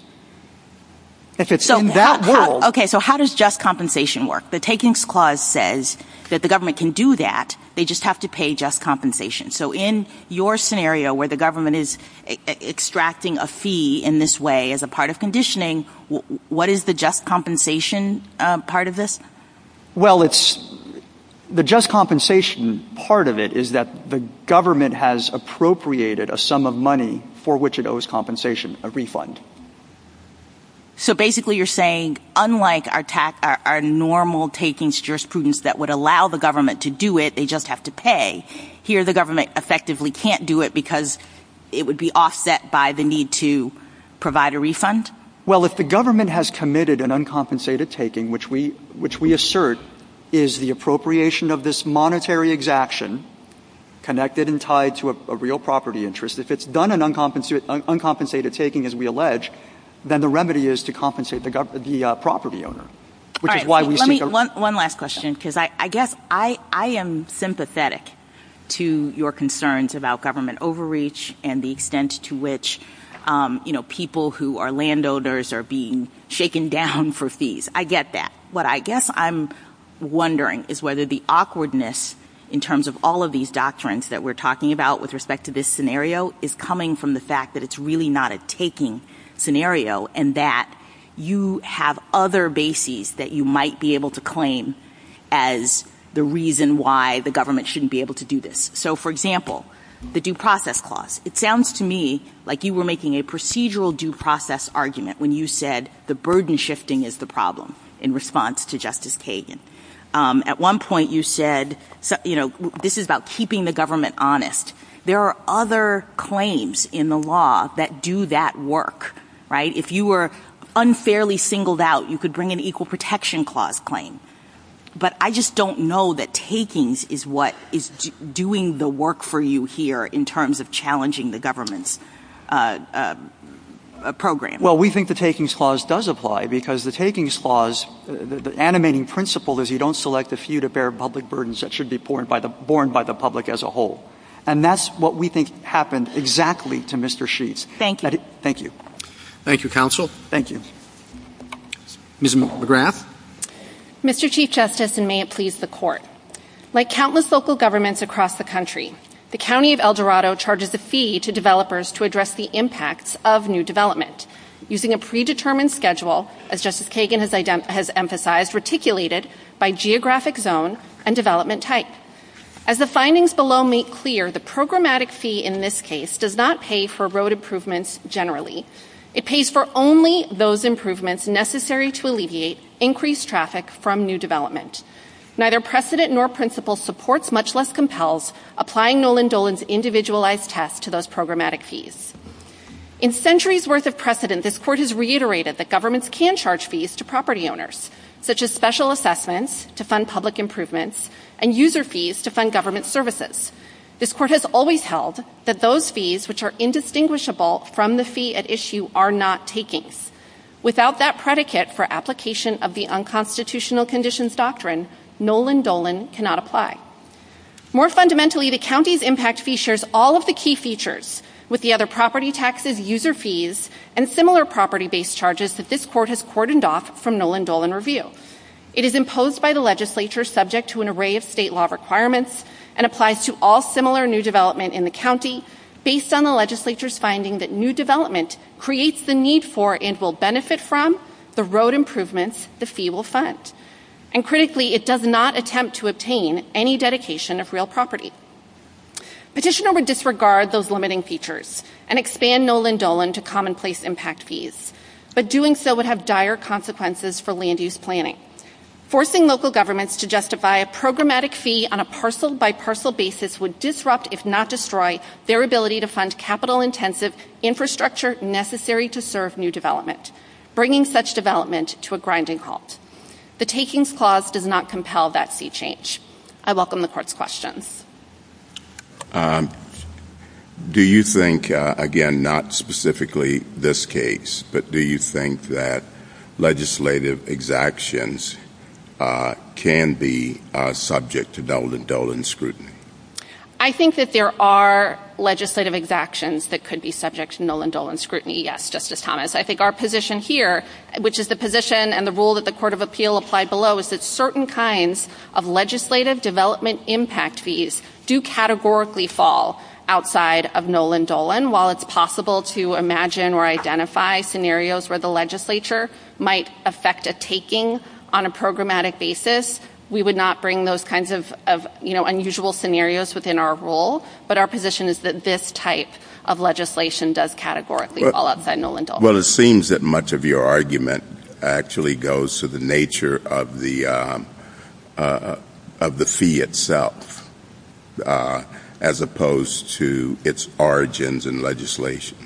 If it's in that world... OK, so how does just compensation work? The takings clause says that the government can do that, they just have to pay just compensation. So in your scenario where the government is extracting a fee in this way as a part of conditioning, what is the just compensation part of this? Well, it's... The just compensation part of it is that the government has appropriated a sum of money for which it owes compensation, a refund. So basically you're saying, unlike our normal takings jurisprudence that would allow the government to do it, they just have to pay, here the government effectively can't do it because it would be offset by the need to provide a refund? Well, if the government has committed an uncompensated taking, which we assert is the appropriation of this monetary exaction, connected and tied to a real property interest, if it's done an uncompensated taking, as we allege, then the remedy is to compensate the property owner. All right, let me... One last question, because I guess I am sympathetic to your concerns about government. And the extent to which, you know, people who are landowners are being shaken down for fees. I get that. What I guess I'm wondering is whether the awkwardness in terms of all of these doctrines that we're talking about with respect to this scenario is coming from the fact that it's really not a taking scenario and that you have other bases that you might be able to claim as the reason why the government shouldn't be able to do this. So, for example, the due process clause. It sounds to me like you were making a procedural due process argument when you said the burden shifting is the problem in response to Justice Kagan. At one point, you said, you know, this is about keeping the government honest. There are other claims in the law that do that work, right? If you were unfairly singled out, you could bring an equal protection clause claim. But I just don't know that takings is what is doing the work for you here in terms of challenging the government's programme. Well, we think the takings clause does apply because the takings clause, the animating principle is you don't select the few to bear public burdens that should be borne by the public as a whole. And that's what we think happened exactly to Mr Sheath. Thank you. Thank you, counsel. Thank you. Ms McAllegraff. Mr Chief Justice, and may it please the court. Like countless local governments across the country, the County of El Dorado charges a fee to developers to address the impact of new development using a predetermined schedule, as Justice Kagan has emphasised, articulated by geographic zone and development type. As the findings below make clear, the programmatic fee in this case does not pay for road improvements generally. It pays for only those improvements necessary to alleviate increased traffic from new development. Neither precedent nor principle supports, much less compels, applying Nolan Dolan's individualised test to those programmatic fees. In centuries worth of precedent, this court has reiterated that governments can charge fees to property owners, such as special assessments to fund public improvements and user fees to fund government services. This court has always held that those fees which are indistinguishable from the fee at issue are not taking. Without that predicate for application of the Unconstitutional Conditions Doctrine, Nolan Dolan cannot apply. More fundamentally, the county's impact features all of the key features, with the other property taxes, user fees, and similar property-based charges that this court has cordoned off from Nolan Dolan review. It is imposed by the legislature subject to an array of state law requirements and applies to all similar new development in the county based on the legislature's finding that new development creates the need for and will benefit from the road improvements the fee will fund. And critically, it does not attempt to obtain any dedication of real property. Petitioner would disregard those limiting features and expand Nolan Dolan to commonplace impact fees, but doing so would have dire consequences for land use planning. Forcing local governments to justify a programmatic fee on a parcel-by-parcel basis would disrupt, if not destroy, their ability to fund capital-intensive infrastructure necessary to serve new development, bringing such development to a grinding halt. The takings clause does not compel that fee change. I welcome the court's questions. Do you think, again, not specifically this case, but do you think that legislative exactions can be subject to Nolan Dolan scrutiny? I think that there are legislative exactions that could be subject to Nolan Dolan scrutiny, yes, Justice Thomas. I think our position here, which is the position and the rule that the Court of Appeal applied below is that certain kinds of legislative development impact fees do categorically fall outside of Nolan Dolan. While it's possible to imagine or identify scenarios where the legislature might affect a taking on a programmatic basis, we would not bring those kinds of unusual scenarios within our rule, but our position is that this type of legislation does categorically fall outside of Nolan Dolan. Well, it seems that much of your argument actually goes to the nature of the fee itself, as opposed to its origins in legislation.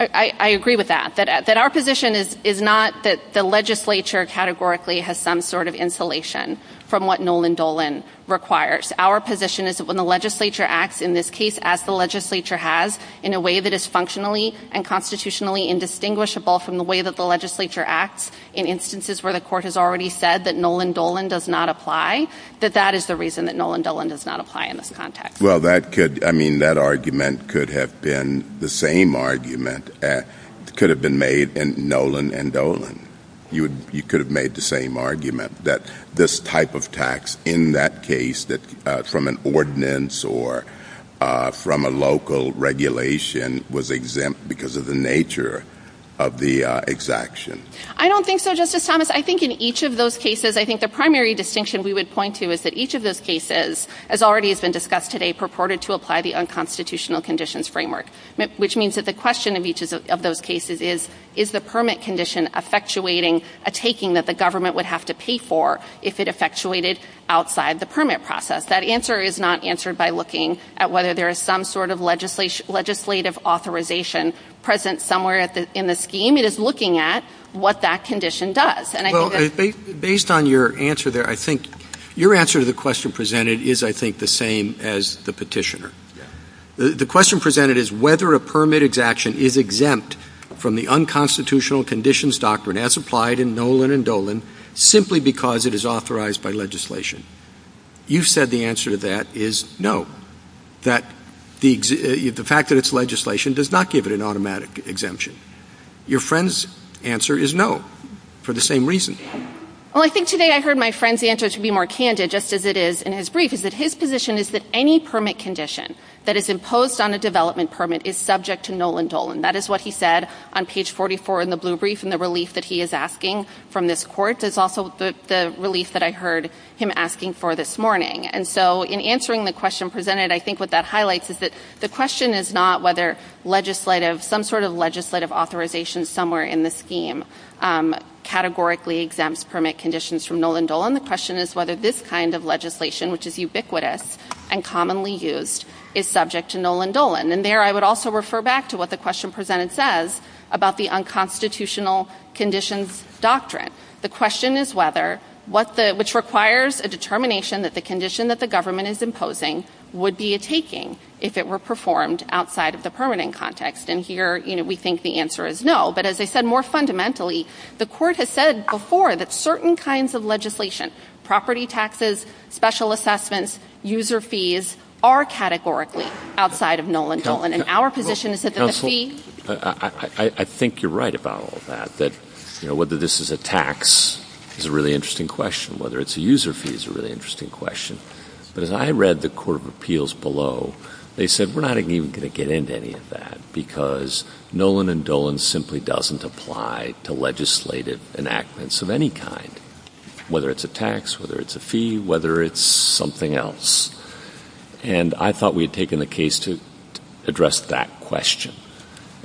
I agree with that, that our position is not that the legislature categorically has some sort of insulation from what Nolan Dolan requires. Our position is that when the legislature acts, in this case, as the legislature has, in a way that is functionally and constitutionally indistinguishable from the way that the legislature acts in instances where the court has already said that Nolan Dolan does not apply, that that is the reason that Nolan Dolan does not apply in this context. Well, that could, I mean, that argument could have been the same argument that could have been made in Nolan and Dolan. You could have made the same argument that this type of tax in that case from an ordinance or from a local regulation was exempt because of the nature of the exaction. I don't think so, Justice Thomas. I think in each of those cases, I think the primary distinction we would point to is that each of those cases, as already has been discussed today, purported to apply the unconstitutional conditions framework, which means that the question of each of those cases is, is the permit condition effectuating a taking that the government would have to pay for if it effectuated outside the permit process? That answer is not answered by looking at whether there is some sort of legislative authorization present somewhere in the scheme. It is looking at what that condition does. And I think- Based on your answer there, I think your answer to the question presented is I think the same as the petitioner. The question presented is whether a permit exaction is exempt from the unconstitutional conditions doctrine as applied in Nolan and Dolan simply because it is authorized by legislation. You said the answer to that is no, that the fact that it's legislation does not give it an automatic exemption. Your friend's answer is no, for the same reason. Well, I think today I heard my friend's answer to be more candid, just as it is in his brief, is that his position is that any permit condition that is imposed on a development permit is subject to Nolan and Dolan. That is what he said on page 44 in the blue brief and the relief that he is asking from this court is also the relief that I heard him asking for this morning. And so in answering the question presented, I think what that highlights is that the question is not whether some sort of legislative authorization somewhere in the scheme categorically exempts permit conditions from Nolan and Dolan. The question is whether this kind of legislation, which is ubiquitous and commonly used, is subject to Nolan and Dolan. And there I would also refer back to what the question presented says about the unconstitutional conditions doctrine. The question is whether, which requires a determination that the condition that the government is imposing would be a taking if it were performed outside of the permanent context. And here, we think the answer is no, but as I said, more fundamentally, the court has said before that certain kinds of legislation, property taxes, special assessments, user fees, are categorically outside of Nolan and Dolan. And our position is that there's a fee. I think you're right about all of that, that whether this is a tax is a really interesting question. Whether it's a user fee is a really interesting question. But as I read the court of appeals below, they said we're not even gonna get into any of that because Nolan and Dolan simply doesn't apply to legislative enactments of any kind, whether it's a tax, whether it's a fee, whether it's something else. And I thought we'd taken the case to address that question.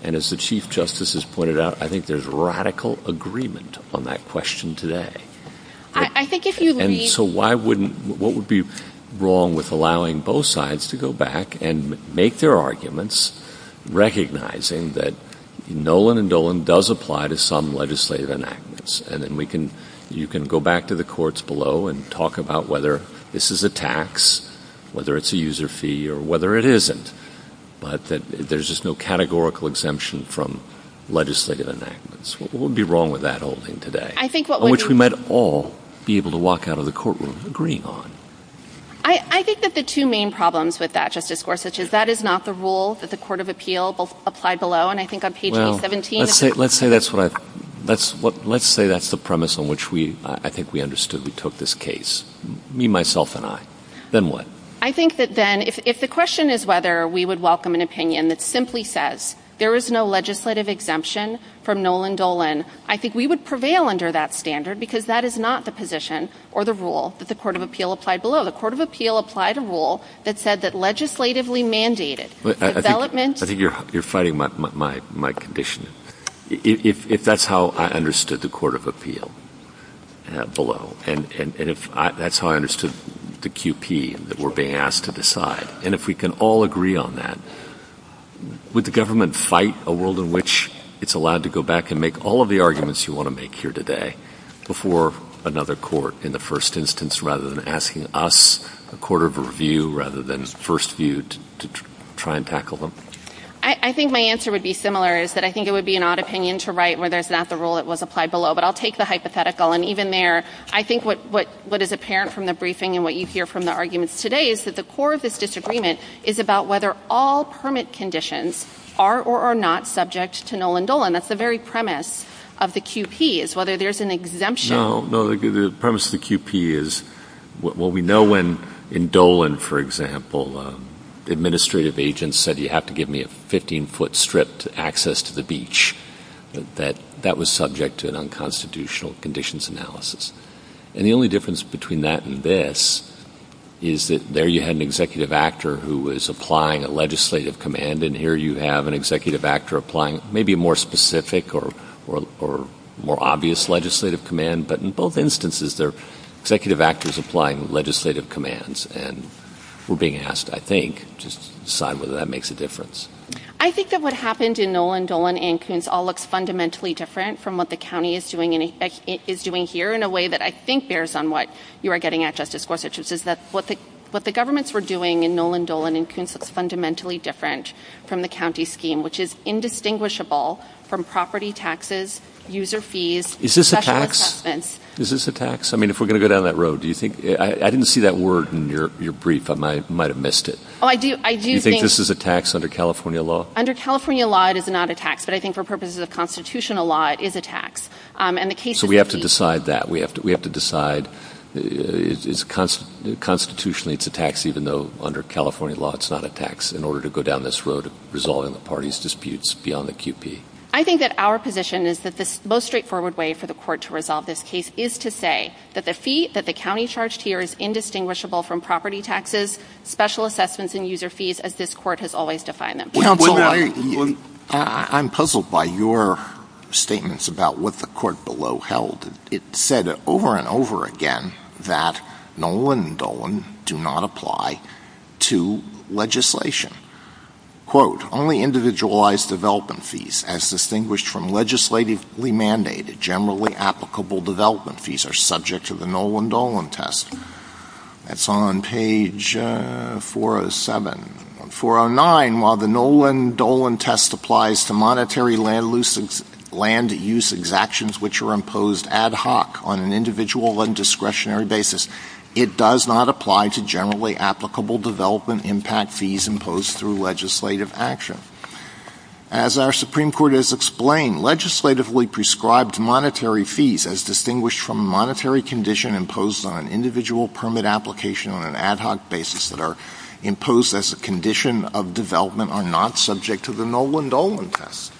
And as the Chief Justice has pointed out, I think there's radical agreement on that question today. I think if you leave- And so why wouldn't, what would be wrong with allowing both sides to go back and make their arguments recognizing that Nolan and Dolan does apply to some legislative enactments? And then we can, you can go back to the courts below and talk about whether this is a tax, whether it's a user fee or whether it isn't, but that there's just no categorical exemption from legislative enactments. What would be wrong with that holding today? I think what- On which we might all be able to walk out of the courtroom agreeing on. I think that the two main problems with that, Justice Gorsuch, is that is not the rule that the court of appeal applied below. And I think on page 817- Let's say that's what I, let's say that's the premise on which we, I think we understood that we took this case, me, myself, and I. Then what? I think that then, if the question is whether we would welcome an opinion that simply says there is no legislative exemption from Nolan, Dolan, I think we would prevail under that standard because that is not the position or the rule that the court of appeal applied below. The court of appeal applied a rule that said that legislatively mandated development- I think you're fighting my condition. If that's how I understood the court of appeal below, and if that's how I understood the QP that we're being asked to decide, and if we can all agree on that, would the government fight a world in which it's allowed to go back and make all of the arguments you want to make here today before another court in the first instance, rather than asking us, the court of review, rather than first view to try and tackle them? I think my answer would be similar, is that I think it would be an odd opinion to write whether it's not the rule that was applied below, but I'll take the hypothetical. And even there, I think what is apparent from the briefing and what you hear from the arguments today is that the core of this disagreement is about whether all permit conditions are or are not subject to Noland-Dolan. That's the very premise of the QP, is whether there's an exemption. No, no, the premise of the QP is, well, we know when in Dolan, for example, administrative agents said you have to give me a 15-foot strip to access to the beach, that that was subject to an unconstitutional conditions analysis. And the only difference between that and this is that there you had an executive actor who was applying a legislative command, and here you have an executive actor applying maybe a more specific or more obvious legislative command, but in both instances, they're executive actors applying legislative commands, and we're being asked, I think, to decide whether that makes a difference. I think that what happened in Noland-Dolan and Koonce all looks fundamentally different from what the county is doing here in a way that I think bears on what you are getting at, Justice Gorsuch, is that what the governments were doing in Noland-Dolan and Koonce looks fundamentally different from the county scheme, which is indistinguishable from property taxes, user fees, special assessments. Is this a tax? I mean, if we're gonna go down that road, do you think, I didn't see that word in your brief. I might have missed it. Oh, I do think- Do you think this is a tax under California law? Under California law, it is not a tax, but I think for purposes of constitutional law, it is a tax, and the case- So we have to decide that. We have to decide, constitutionally, it's a tax, even though under California law, it's not a tax in order to go down this road of resolving the party's disputes beyond the QP. I think that our position is that the most straightforward way for the court to resolve this case is to say that the fee that the county charged here is indistinguishable from property taxes, special assessments, and user fees, as this court has always defined them. I'm puzzled by your statements about what the court below held. It said over and over again that Nolan and Dolan do not apply to legislation. Quote, only individualized development fees, as distinguished from legislatively mandated, generally applicable development fees, are subject to the Nolan-Dolan test. That's on page 407. 409, while the Nolan-Dolan test applies to monetary land use exactions, which are imposed ad hoc on an individual and discretionary basis, it does not apply to generally applicable development impact fees imposed through legislative action. As our Supreme Court has explained, legislatively prescribed monetary fees, as distinguished from a monetary condition imposed on an individual permit application on an ad hoc basis that are imposed as a condition of development, are not subject to the Nolan-Dolan test.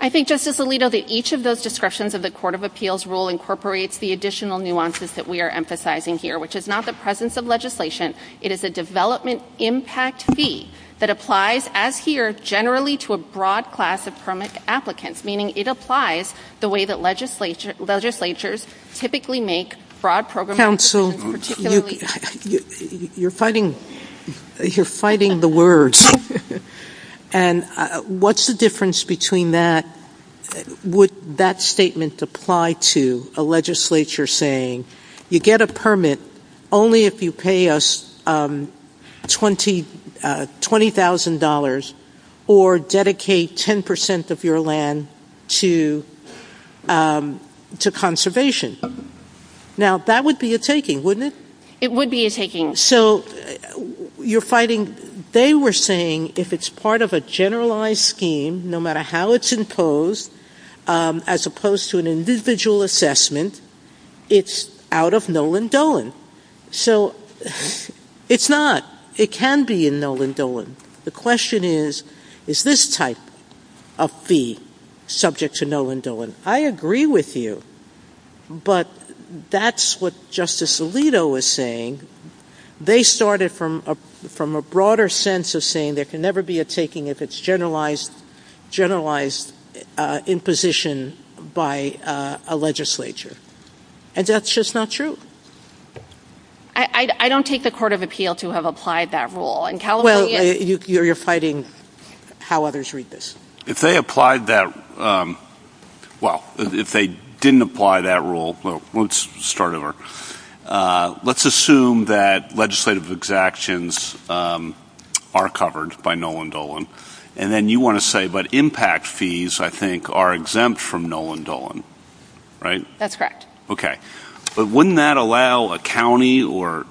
I think, Justice Alito, that each of those discretions of the Court of Appeals rule incorporates the additional nuances that we are emphasizing here, which is not the presence of legislation. It is a development impact fee that applies, as here, generally to a broad class of permit applicants, meaning it applies the way that legislatures typically make fraud programs... Counsel, you're fighting the words. And what's the difference between that? Would that statement apply to a legislature saying, you get a permit only if you pay us $20,000 or dedicate 10% of your land to conservation? Now, that would be a taking, wouldn't it? It would be a taking. So, you're fighting... They were saying, if it's part of a generalized scheme, no matter how it's imposed, as opposed to an individual assessment, it's out of Nolan-Dolan. So, it's not. It can be in Nolan-Dolan. The question is, is this type of fee subject to Nolan-Dolan? I agree with you, but that's what Justice Alito was saying. They started from a broader sense of saying there can never be a taking if it's generalized imposition by a legislature. And that's just not true. I don't take the court of appeal to have applied that rule. Well, you're fighting how others read this. If they applied that, well, if they didn't apply that rule, let's start over. Let's assume that legislative exactions are covered by Nolan-Dolan. And then you wanna say, but impact fees, I think, are exempt from Nolan-Dolan, right? That's correct. Okay. But wouldn't that allow a county or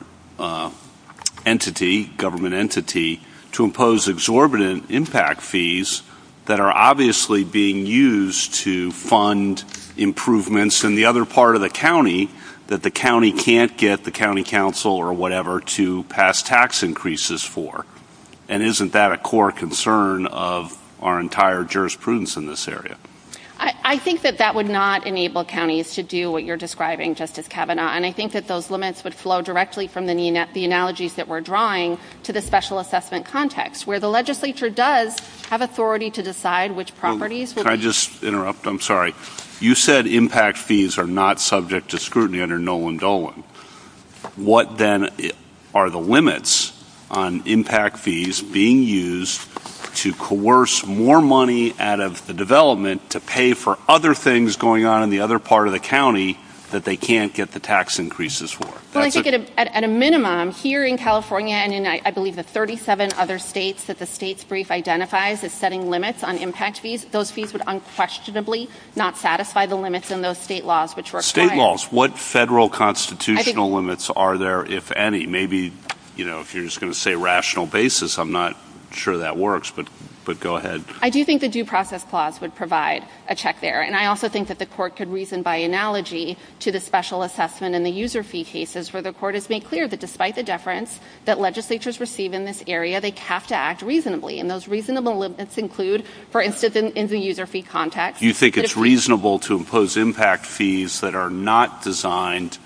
entity, government entity, to impose exorbitant impact fees that are obviously being used to fund improvements in the other part of the county that the county can't get the county council or whatever to pass tax increases for? And isn't that a core concern of our entire jurisprudence in this area? I think that that would not enable counties to do what you're describing, Justice Kavanaugh. And I think that those limits would flow directly from the analogies that we're drawing to the special assessment context, where the legislature does have authority to decide which properties- Can I just interrupt? I'm sorry. You said impact fees are not subject to scrutiny under Nolan-Dolan. What then are the limits on impact fees being used to coerce more money out of the development to pay for other things going on in the other part of the county that they can't get the tax increases for? Well, I think at a minimum, here in California and in, I believe, the 37 other states that the state's brief identifies as setting limits on impact fees, those fees would unquestionably not satisfy the limits in those state laws which were- State laws. What federal constitutional limits are there, if any? Maybe, you know, if you're just gonna say rational basis, I'm not sure that works, but go ahead. I do think the due process clause would provide a check there. And I also think that the court could reason by analogy to the special assessment and the user fee cases where the court has made clear that despite the deference that legislatures receive in this area, they have to act reasonably. And those reasonable limits include, for instance, in the user fee context- You think it's reasonable to impose impact fees that are not designed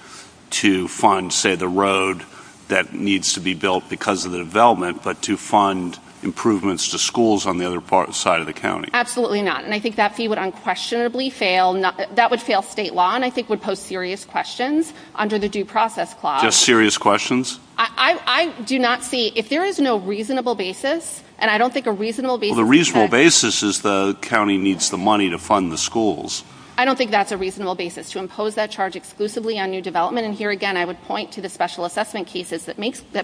to fund, say, the road that needs to be built because of the development, but to fund improvements to schools on the other side of the county? Absolutely not. And I think that fee would unquestionably fail. That would fail state law. And that, again, I think would pose serious questions under the due process clause. Just serious questions? I do not see, if there is no reasonable basis, and I don't think a reasonable basis- Well, the reasonable basis is the county needs the money to fund the schools. I don't think that's a reasonable basis, to impose that charge exclusively on new development. And here again, I would point to the special assessment cases that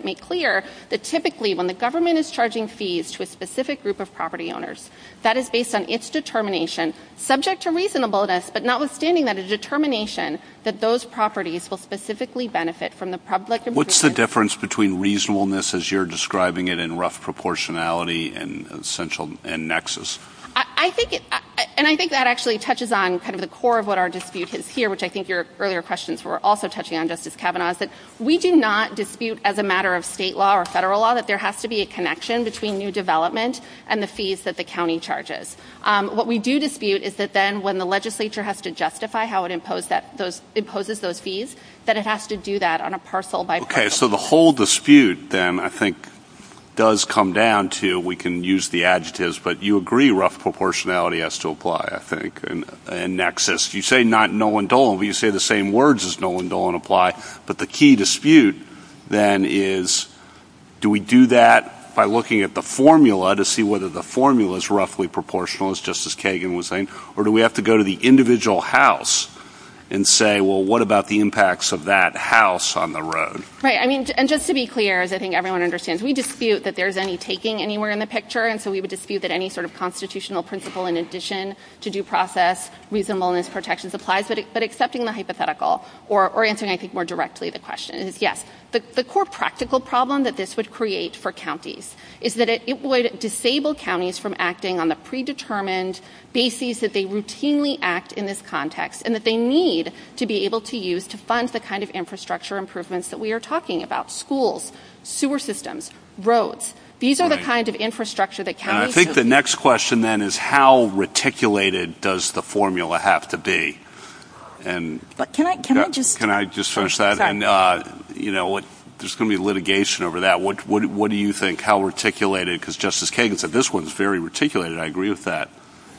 make clear that typically, when the government is charging fees to a specific group of property owners, that is based on its determination, subject to reasonableness, but notwithstanding that determination that those properties will specifically benefit from the public- What's the difference between reasonableness, as you're describing it, and rough proportionality and nexus? And I think that actually touches on kind of the core of what our dispute is here, which I think your earlier questions were also touching on, Justice Kavanaugh, is that we do not dispute, as a matter of state law or federal law, that there has to be a connection between new development and the fees that the county charges. What we do dispute is that then, when the legislature has to justify how it imposes those fees, that it has to do that on a parcel by parcel basis. Okay, so the whole dispute then, I think, does come down to, we can use the adjectives, but you agree rough proportionality has to apply, I think, and nexus. You say not null and dull, you say the same words as null and dull and apply, but the key dispute then is, do we do that by looking at the formula to see whether the formula's roughly proportional, as Justice Kagan was saying, or do we have to go to the individual house and say, well, what about the impacts of that house on the road? Right, I mean, and just to be clear, as I think everyone understands, we dispute that there's any taking anywhere in the picture, and so we would dispute that any sort of constitutional principle in addition to due process, reasonableness, protections applies, but accepting the hypothetical or answering, I think, more directly the question is, yes, the core practical problem that this would create for counties is that it would disable counties from acting on the predetermined basis that they routinely act in this context and that they need to be able to use to fund the kind of infrastructure improvements that we are talking about, schools, sewer systems, roads. These are the kinds of infrastructure that counties- And I think the next question then is how reticulated does the formula have to be? But can I just- Can I just finish that? And, you know, there's gonna be litigation over that. What do you think? Because Justice Kagan said this one's very reticulated. I agree with that.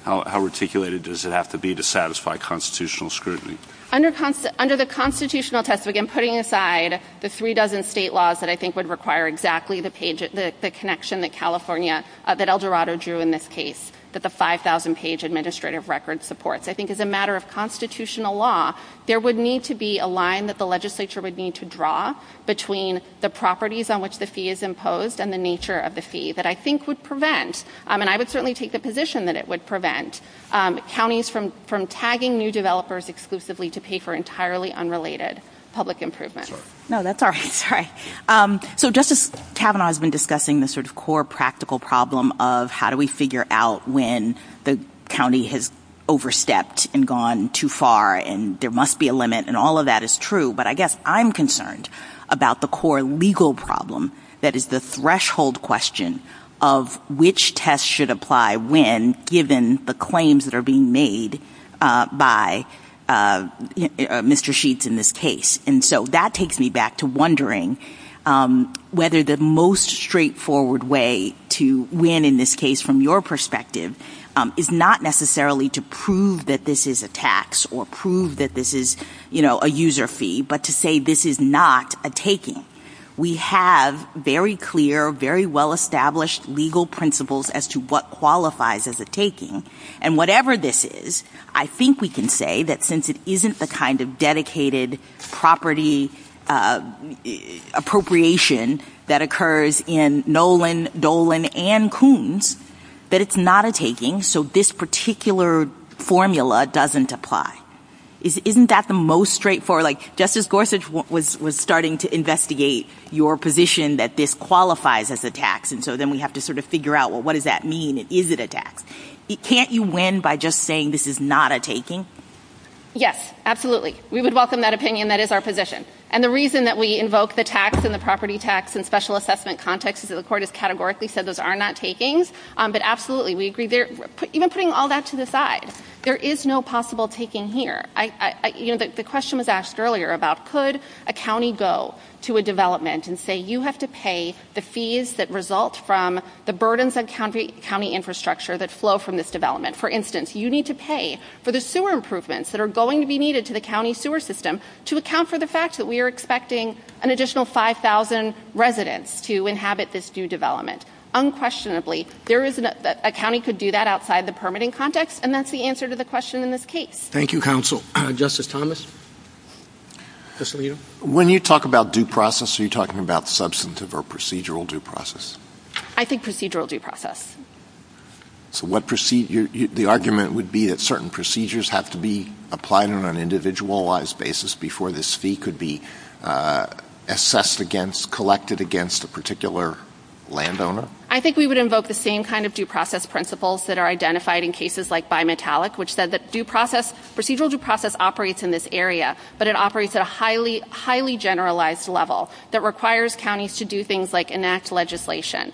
How reticulated does it have to be to satisfy constitutional scrutiny? Under the constitutional test, again, putting aside the three dozen state laws that I think would require exactly the page, the connection that California, that El Dorado drew in this case, that the 5,000-page administrative record supports, I think as a matter of constitutional law, there would need to be a line that the legislature would need to draw between the properties on which the fee is imposed and the nature of the fee that I think would prevent, and I would certainly take the position that it would prevent, counties from tagging new developers exclusively to pay for entirely unrelated public improvement. No, that's all right. So Justice Kavanaugh has been discussing the sort of core practical problem of how do we figure out when the county has overstepped and gone too far and there must be a limit and all of that is true, but I guess I'm concerned about the core legal problem that is the threshold question of which test should apply when given the claims that are being made by Mr. Sheets in this case. And so that takes me back to wondering whether the most straightforward way to win in this case from your perspective is not necessarily to prove that this is a tax or prove that this is a user fee, but to say this is not a taking. We have very clear, very well established legal principles as to what qualifies as a taking. And whatever this is, I think we can say that since it isn't the kind of dedicated property appropriation that occurs in Nolan, Dolan and Coons, that it's not a taking. So this particular formula doesn't apply. Isn't that the most straightforward, just as Gorsuch was starting to investigate your position that this qualifies as a tax and so then we have to sort of figure out well, what does that mean? Is it a tax? Can't you win by just saying this is not a taking? Yes, absolutely. We would welcome that opinion. That is our position. And the reason that we invoke the tax and the property tax and special assessment context is that the court has categorically said those are not takings, but absolutely we agree there. Even putting all that to the side, there is no possible taking here. The question was asked earlier about could a county go to a development and say you have to pay the fees that result from the burdens of county infrastructure that flow from this development. For instance, you need to pay for the sewer improvements that are going to be needed to the county sewer system to account for the fact that we are expecting an additional 5,000 residents to inhabit this new development. Unquestionably, a county could do that outside the permitting context and that's the answer to the question in this case. Thank you, counsel. Justice Thomas? Justice Alito? When you talk about due process, are you talking about substantive or procedural due process? I think procedural due process. So the argument would be that certain procedures have to be applied on an individualized basis before this fee could be assessed against, collected against a particular landowner? I think we would invoke the same kind of due process principles that are identified in cases like bimetallic, which said that due process, procedural due process operates in this area, but it operates at a highly generalized level that requires counties to do things like enact legislation,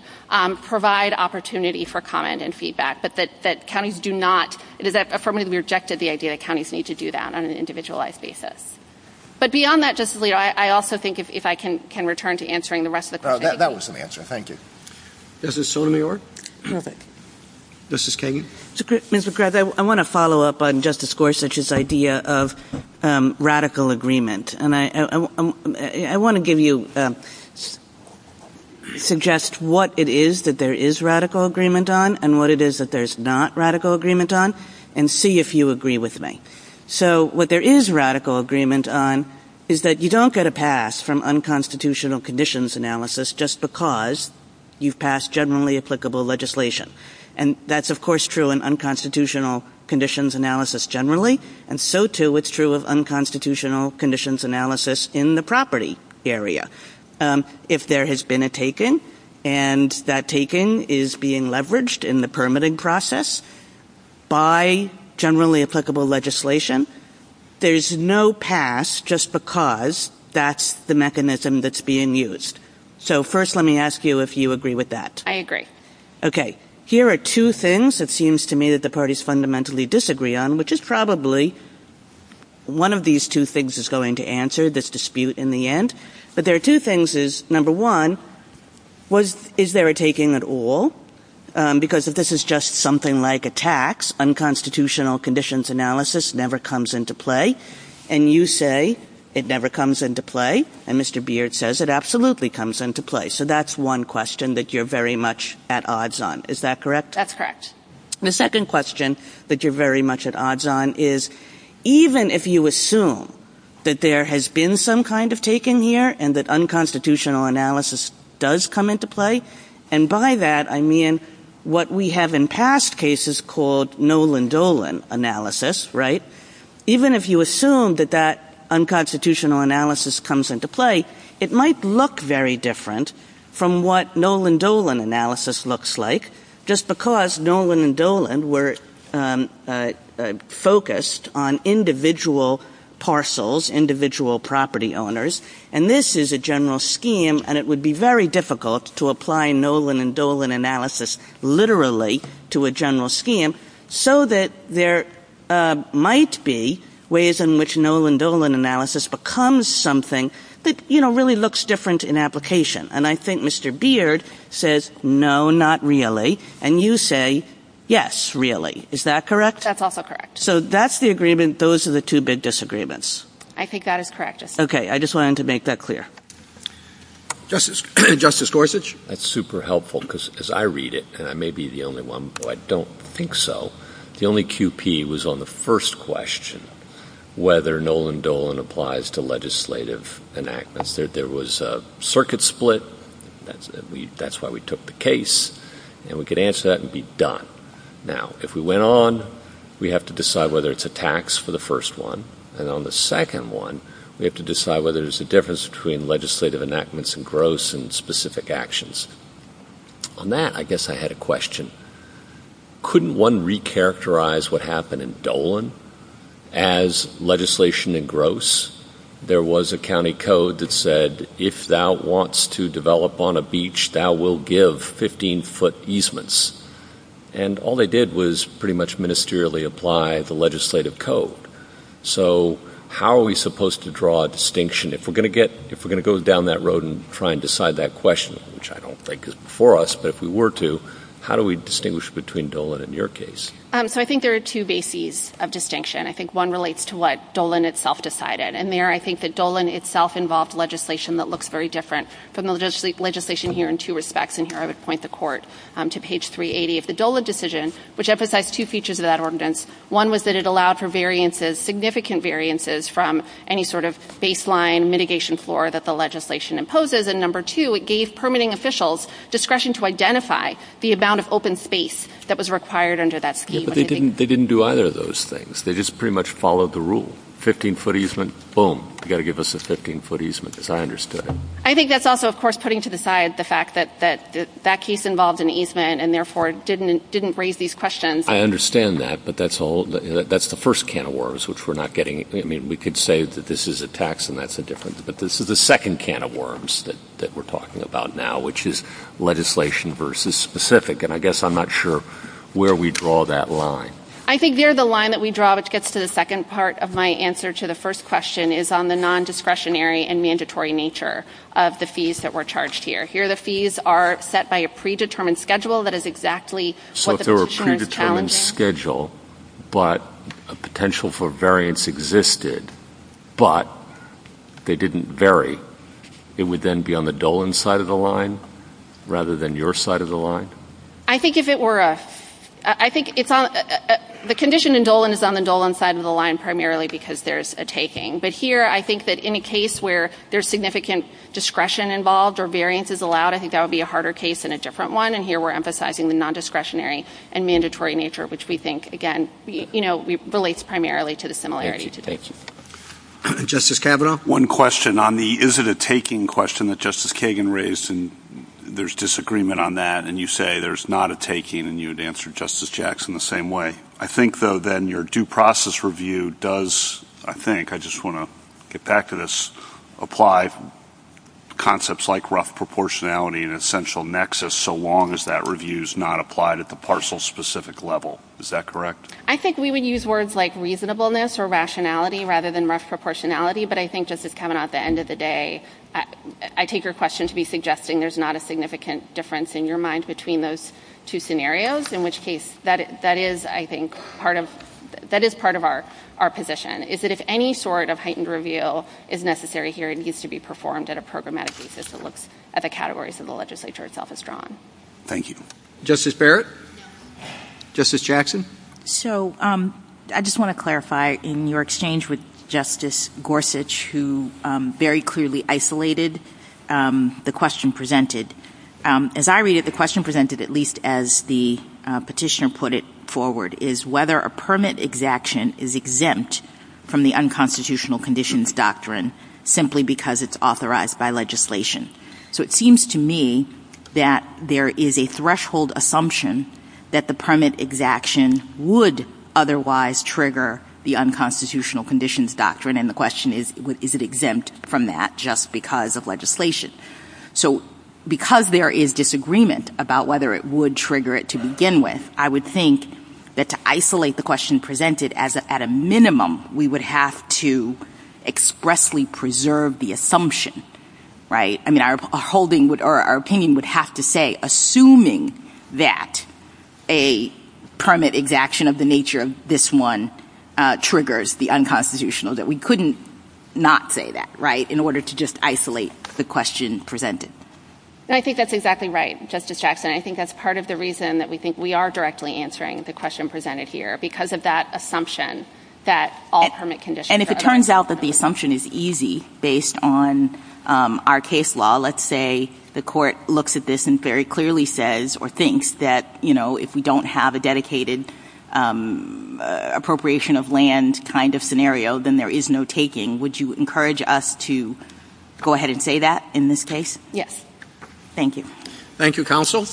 provide opportunity for comment and feedback, but that counties do not, does that affirmatively rejected the idea that counties need to do that on an individualized basis? But beyond that, Justice Alito, I also think if I can return to answering the rest of the questions. That was an answer, thank you. Justice Sotomayor? Justice Kagan? Ms. McGrath, I wanna follow up on Justice Gorsuch's idea of radical agreement. And I wanna give you, suggest what it is that there is radical agreement on and what it is that there's not radical agreement on and see if you agree with me. So what there is radical agreement on is that you don't get a pass from unconstitutional conditions analysis just because you've passed generally applicable legislation. And that's of course true in unconstitutional conditions analysis generally. And so too, it's true of unconstitutional conditions analysis in the property area. If there has been a taking and that taking is being leveraged in the permitting process by generally applicable legislation, there's no pass just because that's the mechanism that's being used. So first, let me ask you if you agree with that. I agree. Okay, here are two things it seems to me that the parties fundamentally disagree on, which is probably one of these two things is going to answer this dispute in the end. But there are two things is, number one, is there a taking at all? Because if this is just something like a tax, unconstitutional conditions analysis never comes into play. And you say it never comes into play. And Mr. Beard says it absolutely comes into play. So that's one question that you're very much at odds on. Is that correct? That's correct. The second question that you're very much at odds on is, even if you assume that there has been some kind of taking here and that unconstitutional analysis does come into play. And by that, I mean, what we have in past cases called Nolan Dolan analysis, right? Even if you assume that that unconstitutional analysis comes into play, it might look very different from what Nolan Dolan analysis looks like, just because Nolan and Dolan were focused on individual parcels, individual property owners. And this is a general scheme and it would be very difficult to apply Nolan and Dolan analysis literally to a general scheme so that there might be ways in which Nolan Dolan analysis becomes something that really looks different in application. And I think Mr. Beard says, no, not really. And you say, yes, really. Is that correct? That's also correct. So that's the agreement. Those are the two big disagreements. I think that is correct. Okay, I just wanted to make that clear. Justice Gorsuch. That's super helpful because as I read it, and I may be the only one who I don't think so, the only QP was on the first question, whether Nolan Dolan applies to legislative enactments. There was a circuit split. That's why we took the case and we could answer that and be done. Now, if we went on, we have to decide whether it's a tax for the first one. And on the second one, we have to decide whether there's a difference between legislative enactments and gross and specific actions. On that, I guess I had a question. Couldn't one recharacterize what happened in Dolan as legislation and gross? There was a county code that said, if thou wants to develop on a beach, thou will give 15 foot easements. And all they did was pretty much ministerially apply the legislative code. So how are we supposed to draw a distinction? If we're gonna go down that road and try and decide that question, which I don't think is for us, but if we were to, how do we distinguish between Dolan and your case? So I think there are two bases of distinction. I think one relates to what Dolan itself decided. And there, I think that Dolan itself involved legislation that looks very different from the legislation here in two respects. And here I would point the court to page 380 of the Dolan decision, which emphasized two features of that ordinance. One was that it allowed for variances, significant variances from any sort of baseline mitigation floor that the legislation imposes. And number two, it gave permitting officials discretion to identify the amount of open space that was required under that scheme. Yeah, but they didn't do either of those things. They just pretty much followed the rule. 15 foot easement, boom. You gotta give us a 15 foot easement, as I understood it. I think that's also, of course, putting to the side the fact that that case involved an easement and therefore didn't raise these questions. I understand that, but that's the first can of worms, which we're not getting. I mean, we could say that this is a tax and that's a difference, but this is the second can of worms that we're talking about now, which is legislation versus specific. And I guess I'm not sure where we draw that line. I think near the line that we draw, which gets to the second part of my answer to the first question is on the non-discretionary and mandatory nature of the fees that were charged here. Here, the fees are set by a predetermined schedule that is exactly what the position is challenging. So if there were a predetermined schedule, but a potential for variance existed, but they didn't vary, it would then be on the Dolan side of the line rather than your side of the line? I think the condition in Dolan is on the Dolan side of the line primarily because there's a taking. But here, I think that in a case where there's significant discretion involved or variance is allowed, I think that would be a harder case than a different one. And here we're emphasizing the non-discretionary and mandatory nature, which we think, again, relates primarily to the similarity to the taking. Justice Kavanaugh, one question on the, is it a taking question that Justice Kagan raised and there's disagreement on that. And you say there's not a taking and you would answer Justice Jackson the same way. I think though then your due process review does, I think, I just wanna get back to this, apply concepts like rough proportionality and essential nexus so long as that review's not applied at the parcel-specific level. Is that correct? I think we would use words like reasonableness or rationality rather than rough proportionality. But I think, Justice Kavanaugh, at the end of the day, I take your question to be suggesting there's not a significant difference in your mind between those two scenarios, in which case, that is, I think, part of, that is part of our position, is that if any sort of heightened reveal is necessary here, it needs to be performed at a programmatic basis that looks at the categories that the legislature itself has drawn. Thank you. Justice Barrett, Justice Jackson. So I just wanna clarify, in your exchange with Justice Gorsuch, who very clearly isolated the question presented. As I read it, the question presented, at least as the petitioner put it forward, is whether a permit exaction is exempt from the unconstitutional conditions doctrine simply because it's authorized by legislation. So it seems to me that there is a threshold assumption that the permit exaction would otherwise trigger the unconstitutional conditions doctrine, and the question is, is it exempt from that just because of legislation? So because there is disagreement about whether it would trigger it to begin with, I would think that to isolate the question presented as at a minimum, we would have to expressly preserve the assumption, right? I mean, our opinion would have to say, assuming that a permit exaction of the nature of this one triggers the unconstitutional, that we couldn't not say that, right? We would just isolate the question presented. And I think that's exactly right, Justice Jackson. I think that's part of the reason that we think we are directly answering the question presented here, because of that assumption that all permit conditions are. And if it turns out that the assumption is easy based on our case law, let's say the court looks at this and very clearly says or thinks that, you know, if we don't have a dedicated appropriation of land kind of scenario, then there is no taking. Would you encourage us to go ahead and say that in this case? Yes. Thank you. Thank you, counsel.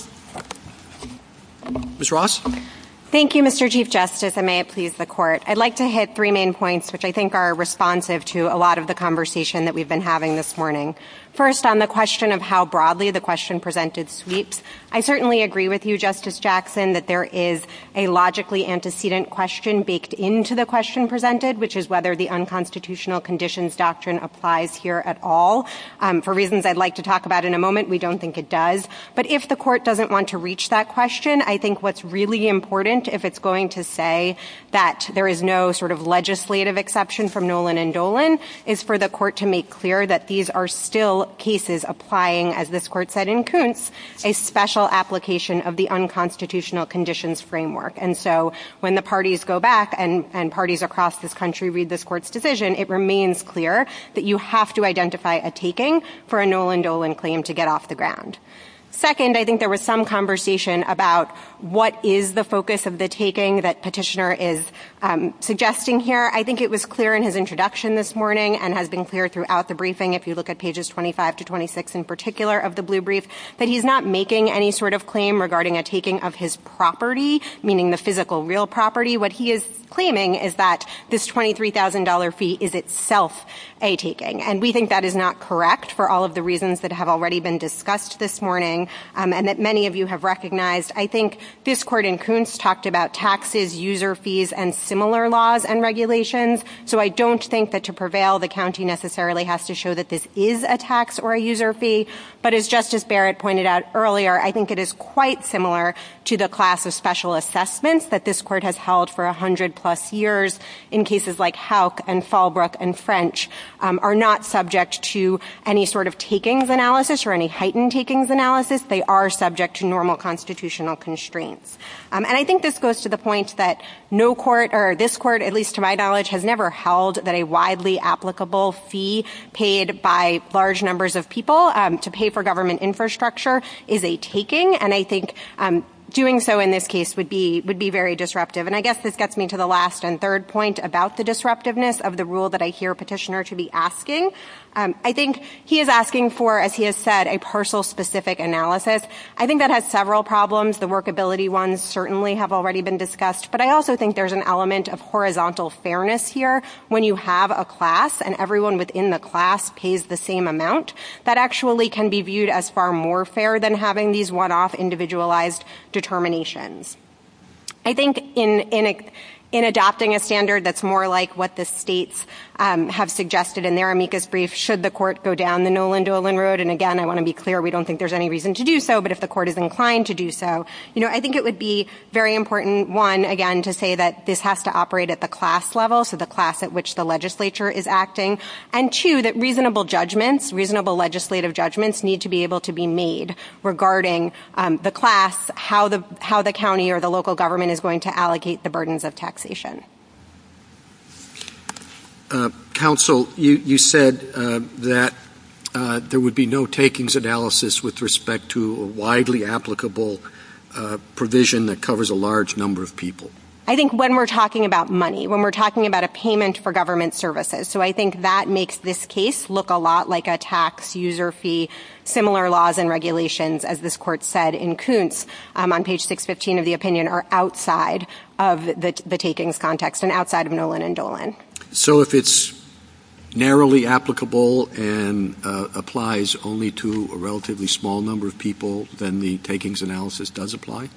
Ms. Ross. Thank you, Mr. Chief Justice, and may it please the court. I'd like to hit three main points, which I think are responsive to a lot of the conversation that we've been having this morning. First on the question of how broadly the question presented sweeps. I certainly agree with you, Justice Jackson, that there is a logically antecedent question baked into the question presented, which is whether the unconstitutional conditions doctrine applies here at all. For reasons I'd like to talk about in a moment, we don't think it does. But if the court doesn't want to reach that question, I think what's really important if it's going to say that there is no sort of legislative exception from Nolan and Dolan is for the court to make clear that these are still cases applying, as this court said in Kuntz, a special application of the unconstitutional conditions framework. And so when the parties go back and parties across this country read this court's decision, it remains clear that you have to identify a taking for a Nolan-Dolan claim to get off the ground. Second, I think there was some conversation about what is the focus of the taking that petitioner is suggesting here. I think it was clear in his introduction this morning and has been clear throughout the briefing, if you look at pages 25 to 26 in particular of the blue brief, that he's not making any sort of claim regarding a taking of his property, meaning the physical real property. What he is claiming is that this $23,000 fee is itself a taking. And we think that is not correct for all of the reasons that have already been discussed this morning and that many of you have recognized. I think this court in Kuntz talked about taxes, user fees, and similar laws and regulations. So I don't think that to prevail, the county necessarily has to show that this is a tax or a user fee. But as Justice Barrett pointed out earlier, I think it is quite similar to the class of special assessments that this court has held for 100 plus years in cases like Houck and Fallbrook and French are not subject to any sort of takings analysis or any heightened takings analysis. They are subject to normal constitutional constraints. And I think this goes to the point that no court or this court, at least to my knowledge, has never held that a widely applicable fee paid by large numbers of people to pay for government infrastructure is a taking. And I think doing so in this case would be very disruptive. And I guess this gets me to the last and third point about the disruptiveness of the rule that I hear petitioner to be asking. I think he is asking for, as he has said, a parcel specific analysis. I think that has several problems. The workability ones certainly have already been discussed, but I also think there's an element of horizontal fairness here when you have a class and everyone within the class pays the same amount. That actually can be viewed as far more fair than having these one-off individualized determinations. I think in adopting a standard that's more like what the states have suggested in their amicus brief, should the court go down the Nolan-Dolan road, and again, I wanna be clear, we don't think there's any reason to do so, but if the court is inclined to do so, I think it would be very important, one, again, to say that this has to operate at the class level, so the class at which the legislature is acting, and two, that reasonable judgments, reasonable legislative judgments need to be able to be made regarding the class, how the county or the local government is going to allocate the burdens of taxation. Council, you said that there would be no takings analysis with respect to a widely applicable provision that covers a large number of people. I think when we're talking about money, when we're talking about a payment for government services, so I think that makes this case look a lot like a tax user fee, similar laws and regulations, as this court said in Kuntz on page 615 of the opinion are outside of the takings context and outside of Nolan-Dolan. So if it's narrowly applicable and applies only to a relatively small number of people, then the takings analysis does apply?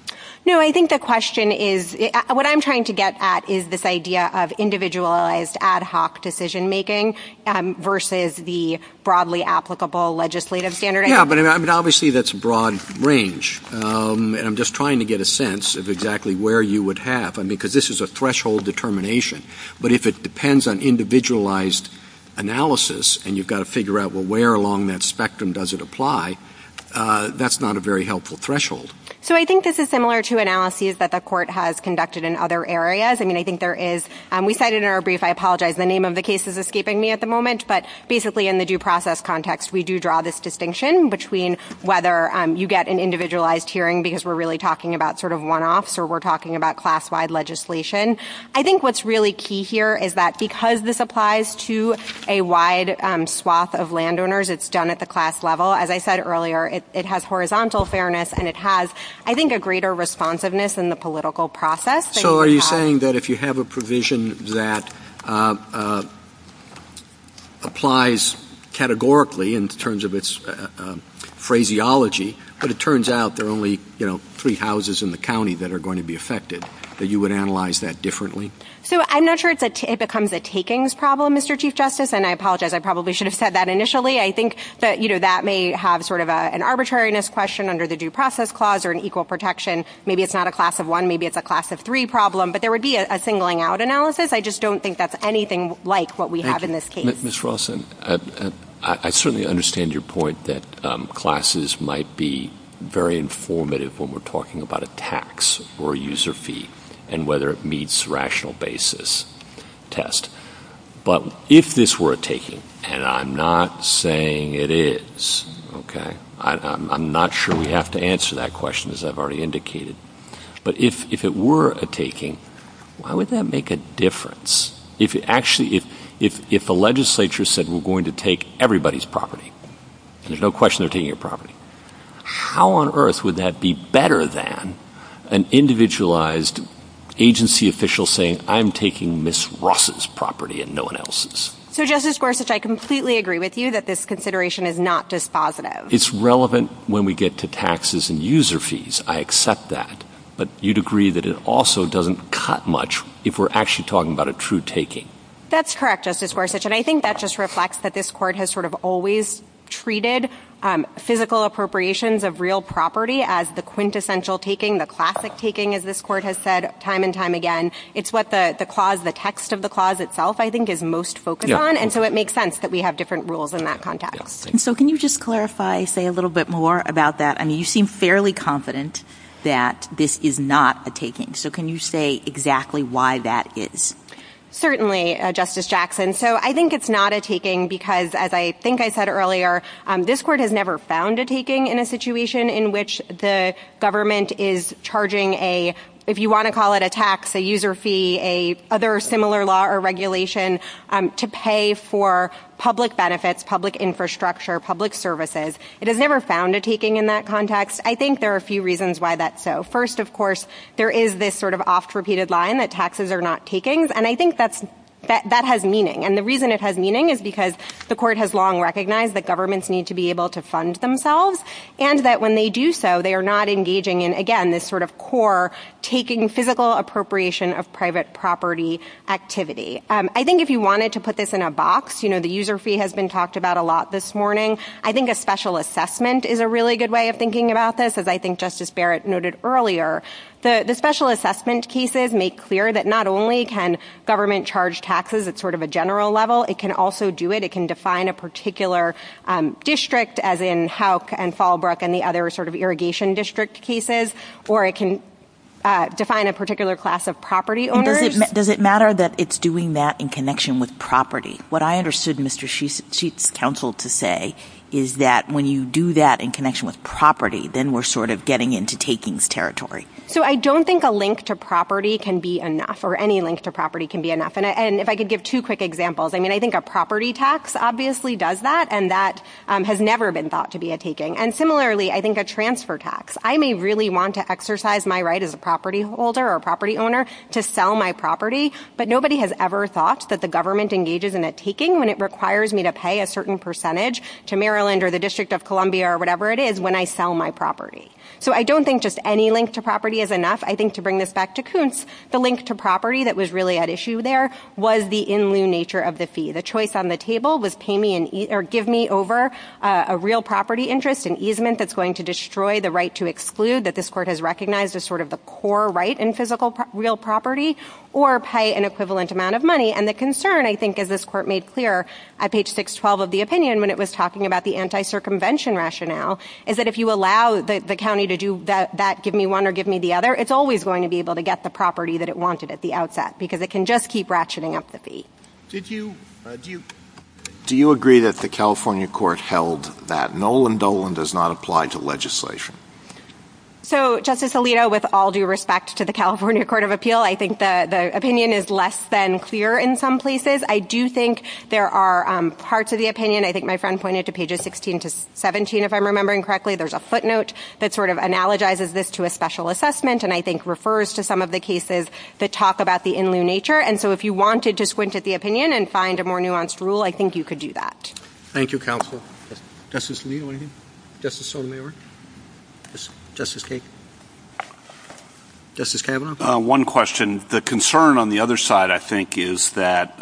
No, I think the question is, what I'm trying to get at is this idea of individualized ad hoc decision-making versus the broadly applicable legislative standard? Yeah, but I mean, obviously that's a broad range. And I'm just trying to get a sense of exactly where you would have, I mean, because this is a threshold determination. But if it depends on individualized analysis and you've got to figure out, well, where along that spectrum does it apply? That's not a very helpful threshold. So I think this is similar to analyses that the court has conducted in other areas. I mean, I think there is, we cited in our brief, I apologize, the name of the case is escaping me at the moment, but basically in the due process context, we do draw this distinction between whether you get an individualized hearing because we're really talking about sort of one-offs or we're talking about class-wide legislation. I think what's really key here is that because this applies to a wide swath of landowners, it's done at the class level. As I said earlier, it has horizontal fairness and it has, I think, a greater responsiveness in the political process. So are you saying that if you have a provision that applies categorically in terms of its phraseology, but it turns out there are only three houses in the county that are going to be affected, that you would analyze that differently? So I'm not sure it becomes a takings problem, Mr. Chief Justice, and I apologize, I probably should have said that initially. I think that that may have sort of an arbitrariness question under the due process clause or an equal protection. Maybe it's not a class of one, maybe it's a class of three problem, but there would be a singling out analysis. I just don't think that's anything like what we have in this case. Mr. Wilson, I certainly understand your point that classes might be very informative when we're talking about a tax or a user fee and whether it meets rational basis test. But if this were a taking, and I'm not saying it is, okay, I'm not sure we have to answer that question as I've already indicated. But if it were a taking, why would that make a difference? If actually, if the legislature said we're going to take everybody's property, and there's no question they're taking your property, how on earth would that be better than an individualized agency official saying, I'm taking Ms. Ross's property and no one else's? So Justice Gorsuch, I completely agree with you that this consideration is not just positive. It's relevant when we get to taxes and user fees. I accept that. But you'd agree that it also doesn't cut much if we're actually talking about a true taking. That's correct, Justice Gorsuch. And I think that just reflects that this court has sort of always treated physical appropriations of real property as the quintessential taking, the classic taking, as this court has said time and time again. It's what the clause, the text of the clause itself, I think is most focused on. And so it makes sense that we have different rules in that context. So can you just clarify, say a little bit more about that? I mean, you seem fairly confident that this is not a taking. So can you say exactly why that is? Certainly, Justice Jackson. So I think it's not a taking because as I think I said earlier, this court has never found a taking in a situation in which the government is charging a, if you wanna call it a tax, a user fee, a other similar law or regulation to pay for public benefits, public infrastructure, public services. It has never found a taking in that context. I think there are a few reasons why that's so. First, of course, there is this sort of oft-repeated line that taxes are not takings. And I think that has meaning. And the reason it has meaning is because the court has long recognized that governments need to be able to fund themselves and that when they do so, they are not engaging in, again, this sort of core taking physical appropriation of private property activity. I think if you wanted to put this in a box, the user fee has been talked about a lot this morning. I think a special assessment is a really good way of thinking about this as I think Justice Barrett noted earlier. The special assessment cases make clear that not only can government charge taxes at sort of a general level, it can also do it. It can define a particular district as in Houck and Fallbrook and the other sort of irrigation district cases, or it can define a particular class of property owners. Does it matter that it's doing that in connection with property? What I understood Mr. Sheets' counsel to say is that when you do that in connection with property, then we're sort of getting into takings territory. So I don't think a link to property can be enough or any link to property can be enough. And if I could give two quick examples, I mean, I think a property tax obviously does that and that has never been thought to be a taking. And similarly, I think a transfer tax. I may really want to exercise my right as a property holder or property owner to sell my property, but nobody has ever thought that the government engages in a taking when it requires me to pay a certain percentage to Maryland or the District of Columbia or whatever it is when I sell my property. So I don't think just any link to property is enough. I think to bring this back to Koontz, the link to property that was really at issue there was the in lieu nature of the fee. The choice on the table was pay me or give me over a real property interest and easement that's going to destroy the right to exclude that this court has recognized as sort of the core right in physical real property or pay an equivalent amount of money. And the concern, I think, as this court made clear at page 612 of the opinion when it was talking about the anti-circumvention rationale is that if you allow the county to do that, give me one or give me the other, it's always going to be able to get the property that it wanted at the outset because it can just keep ratcheting up the fee. Did you, do you agree that the California court held that null and dull and does not apply to legislation? So Justice Alito, with all due respect to the California Court of Appeal, I think that the opinion is less than clear in some places. I do think there are parts of the opinion. I think my friend pointed to pages 16 to 17, if I'm remembering correctly, there's a footnote that sort of analogizes this to a special assessment and I think refers to some of the cases that talk about the in lieu nature. And so if you wanted to squint at the opinion and find a more nuanced rule, I think you could do that. Thank you, counsel. Justice Lee, Justice O'Leary, Justice Kagan. Justice Taylor. One question. The concern on the other side, I think, is that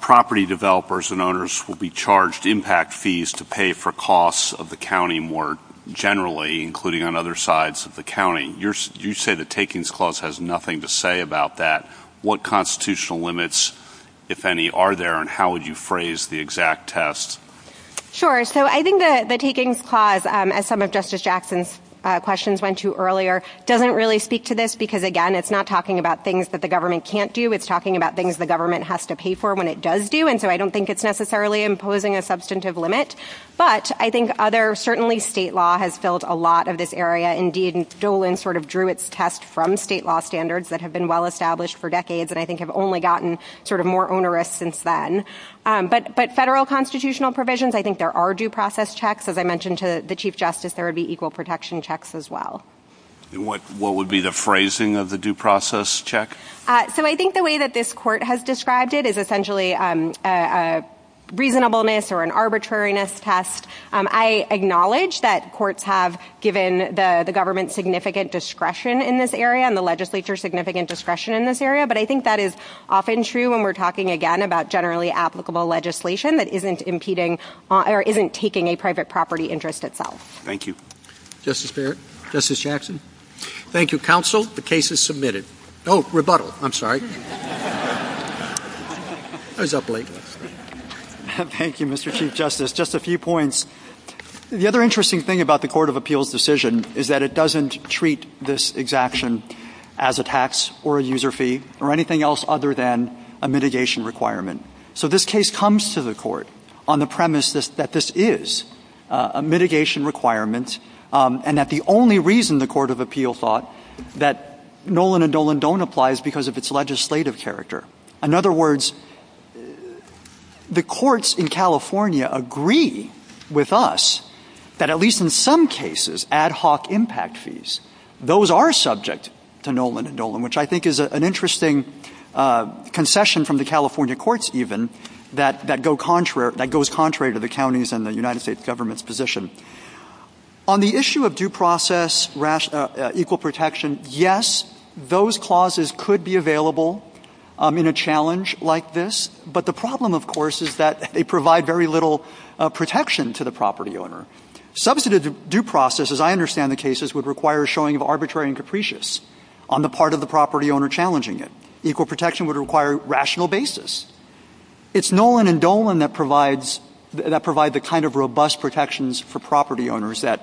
property developers and owners will be charged impact fees to pay for costs of the county more generally, including on other sides of the county. You say the takings clause has nothing to say about that. What constitutional limits, if any, are there and how would you phrase the exact test? Sure, so I think that the takings clause, as some of Justice Jackson's questions went to earlier, doesn't really speak to this because, again, it's not talking about things that the government can't do, it's talking about things the government has to pay for when it does do, and so I don't think it's necessarily imposing a substantive limit. But I think other, certainly state law has filled a lot of this area. Indeed, Golan sort of drew its test from state law standards that have been well-established for decades and I think have only gotten sort of more onerous since then. But federal constitutional provisions, I think there are due process checks. As I mentioned to the Chief Justice, there would be equal protection checks as well. What would be the phrasing of the due process check? So I think the way that this court has described it is essentially a reasonableness or an arbitrariness test. I acknowledge that courts have given the government significant discretion in this area and the legislature significant discretion in this area, but I think that is often true when we're talking, again, about generally applicable legislation that isn't impeding or isn't taking a private property interest itself. Thank you. Justice Barrett, Justice Jackson. Thank you, counsel. The case is submitted. Oh, rebuttal, I'm sorry. I was up late. Thank you, Mr. Chief Justice. Just a few points. The other interesting thing about the Court of Appeals' decision is that it doesn't treat this exaction as a tax or a user fee or anything else other than a mitigation requirement. So this case comes to the court on the premise that this is a mitigation requirement and that the only reason the Court of Appeals thought that Nolan and Dolan don't apply is because of its legislative character. In other words, the courts in California agree with us that at least in some cases, ad hoc impact fees, those are subject to Nolan and Dolan, which I think is an interesting concession from the California courts even, that goes contrary to the county's and the United States government's position. On the issue of due process, equal protection, yes, those clauses could be available in a challenge like this, but the problem, of course, is that they provide very little protection to the property owner. Substantive due process, as I understand the cases, would require a showing of arbitrary and capricious on the part of the property owner challenging it. Equal protection would require rational basis. It's Nolan and Dolan that provide the kind of robust protections for property owners that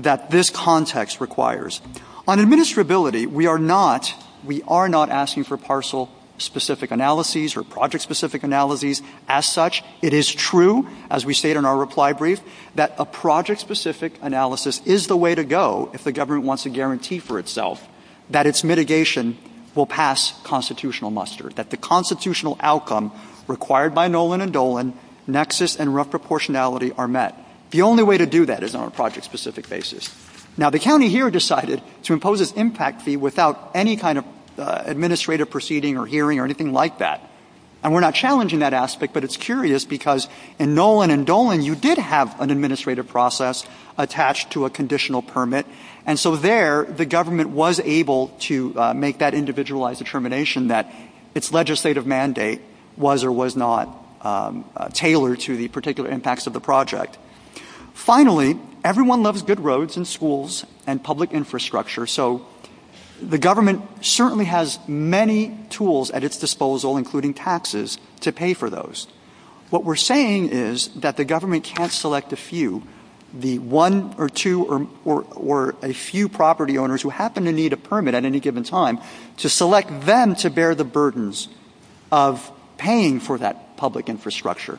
this context requires. On administrability, we are not asking for parcel-specific analyses or project-specific analyses as such. It is true, as we state in our reply brief, that a project-specific analysis is the way to go if the government wants a guarantee for itself that its mitigation will pass constitutional muster, that the constitutional outcome required by Nolan and Dolan, nexus and proportionality are met. The only way to do that is on a project-specific basis. Now, the county here decided to impose its impact fee without any kind of administrative proceeding or hearing or anything like that, and we're not challenging that aspect, but it's curious because in Nolan and Dolan, you did have an administrative process attached to a conditional permit, and so there, the government was able to make that individualized determination that its legislative mandate was or was not tailored to the particular impacts of the project. Finally, everyone loves good roads and schools and public infrastructure, so the government certainly has many tools at its disposal, including taxes, to pay for those. What we're saying is that the government can't select a few. The one or two or a few property owners who happen to need a permit at any given time to select them to bear the burdens of paying for that public infrastructure,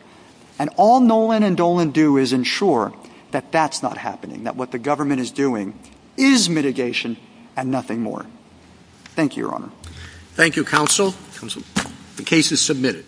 and all Nolan and Dolan do is ensure that that's not happening, that what the government is doing is mitigation and nothing more. Thank you, Your Honor. Thank you, counsel. The case is submitted.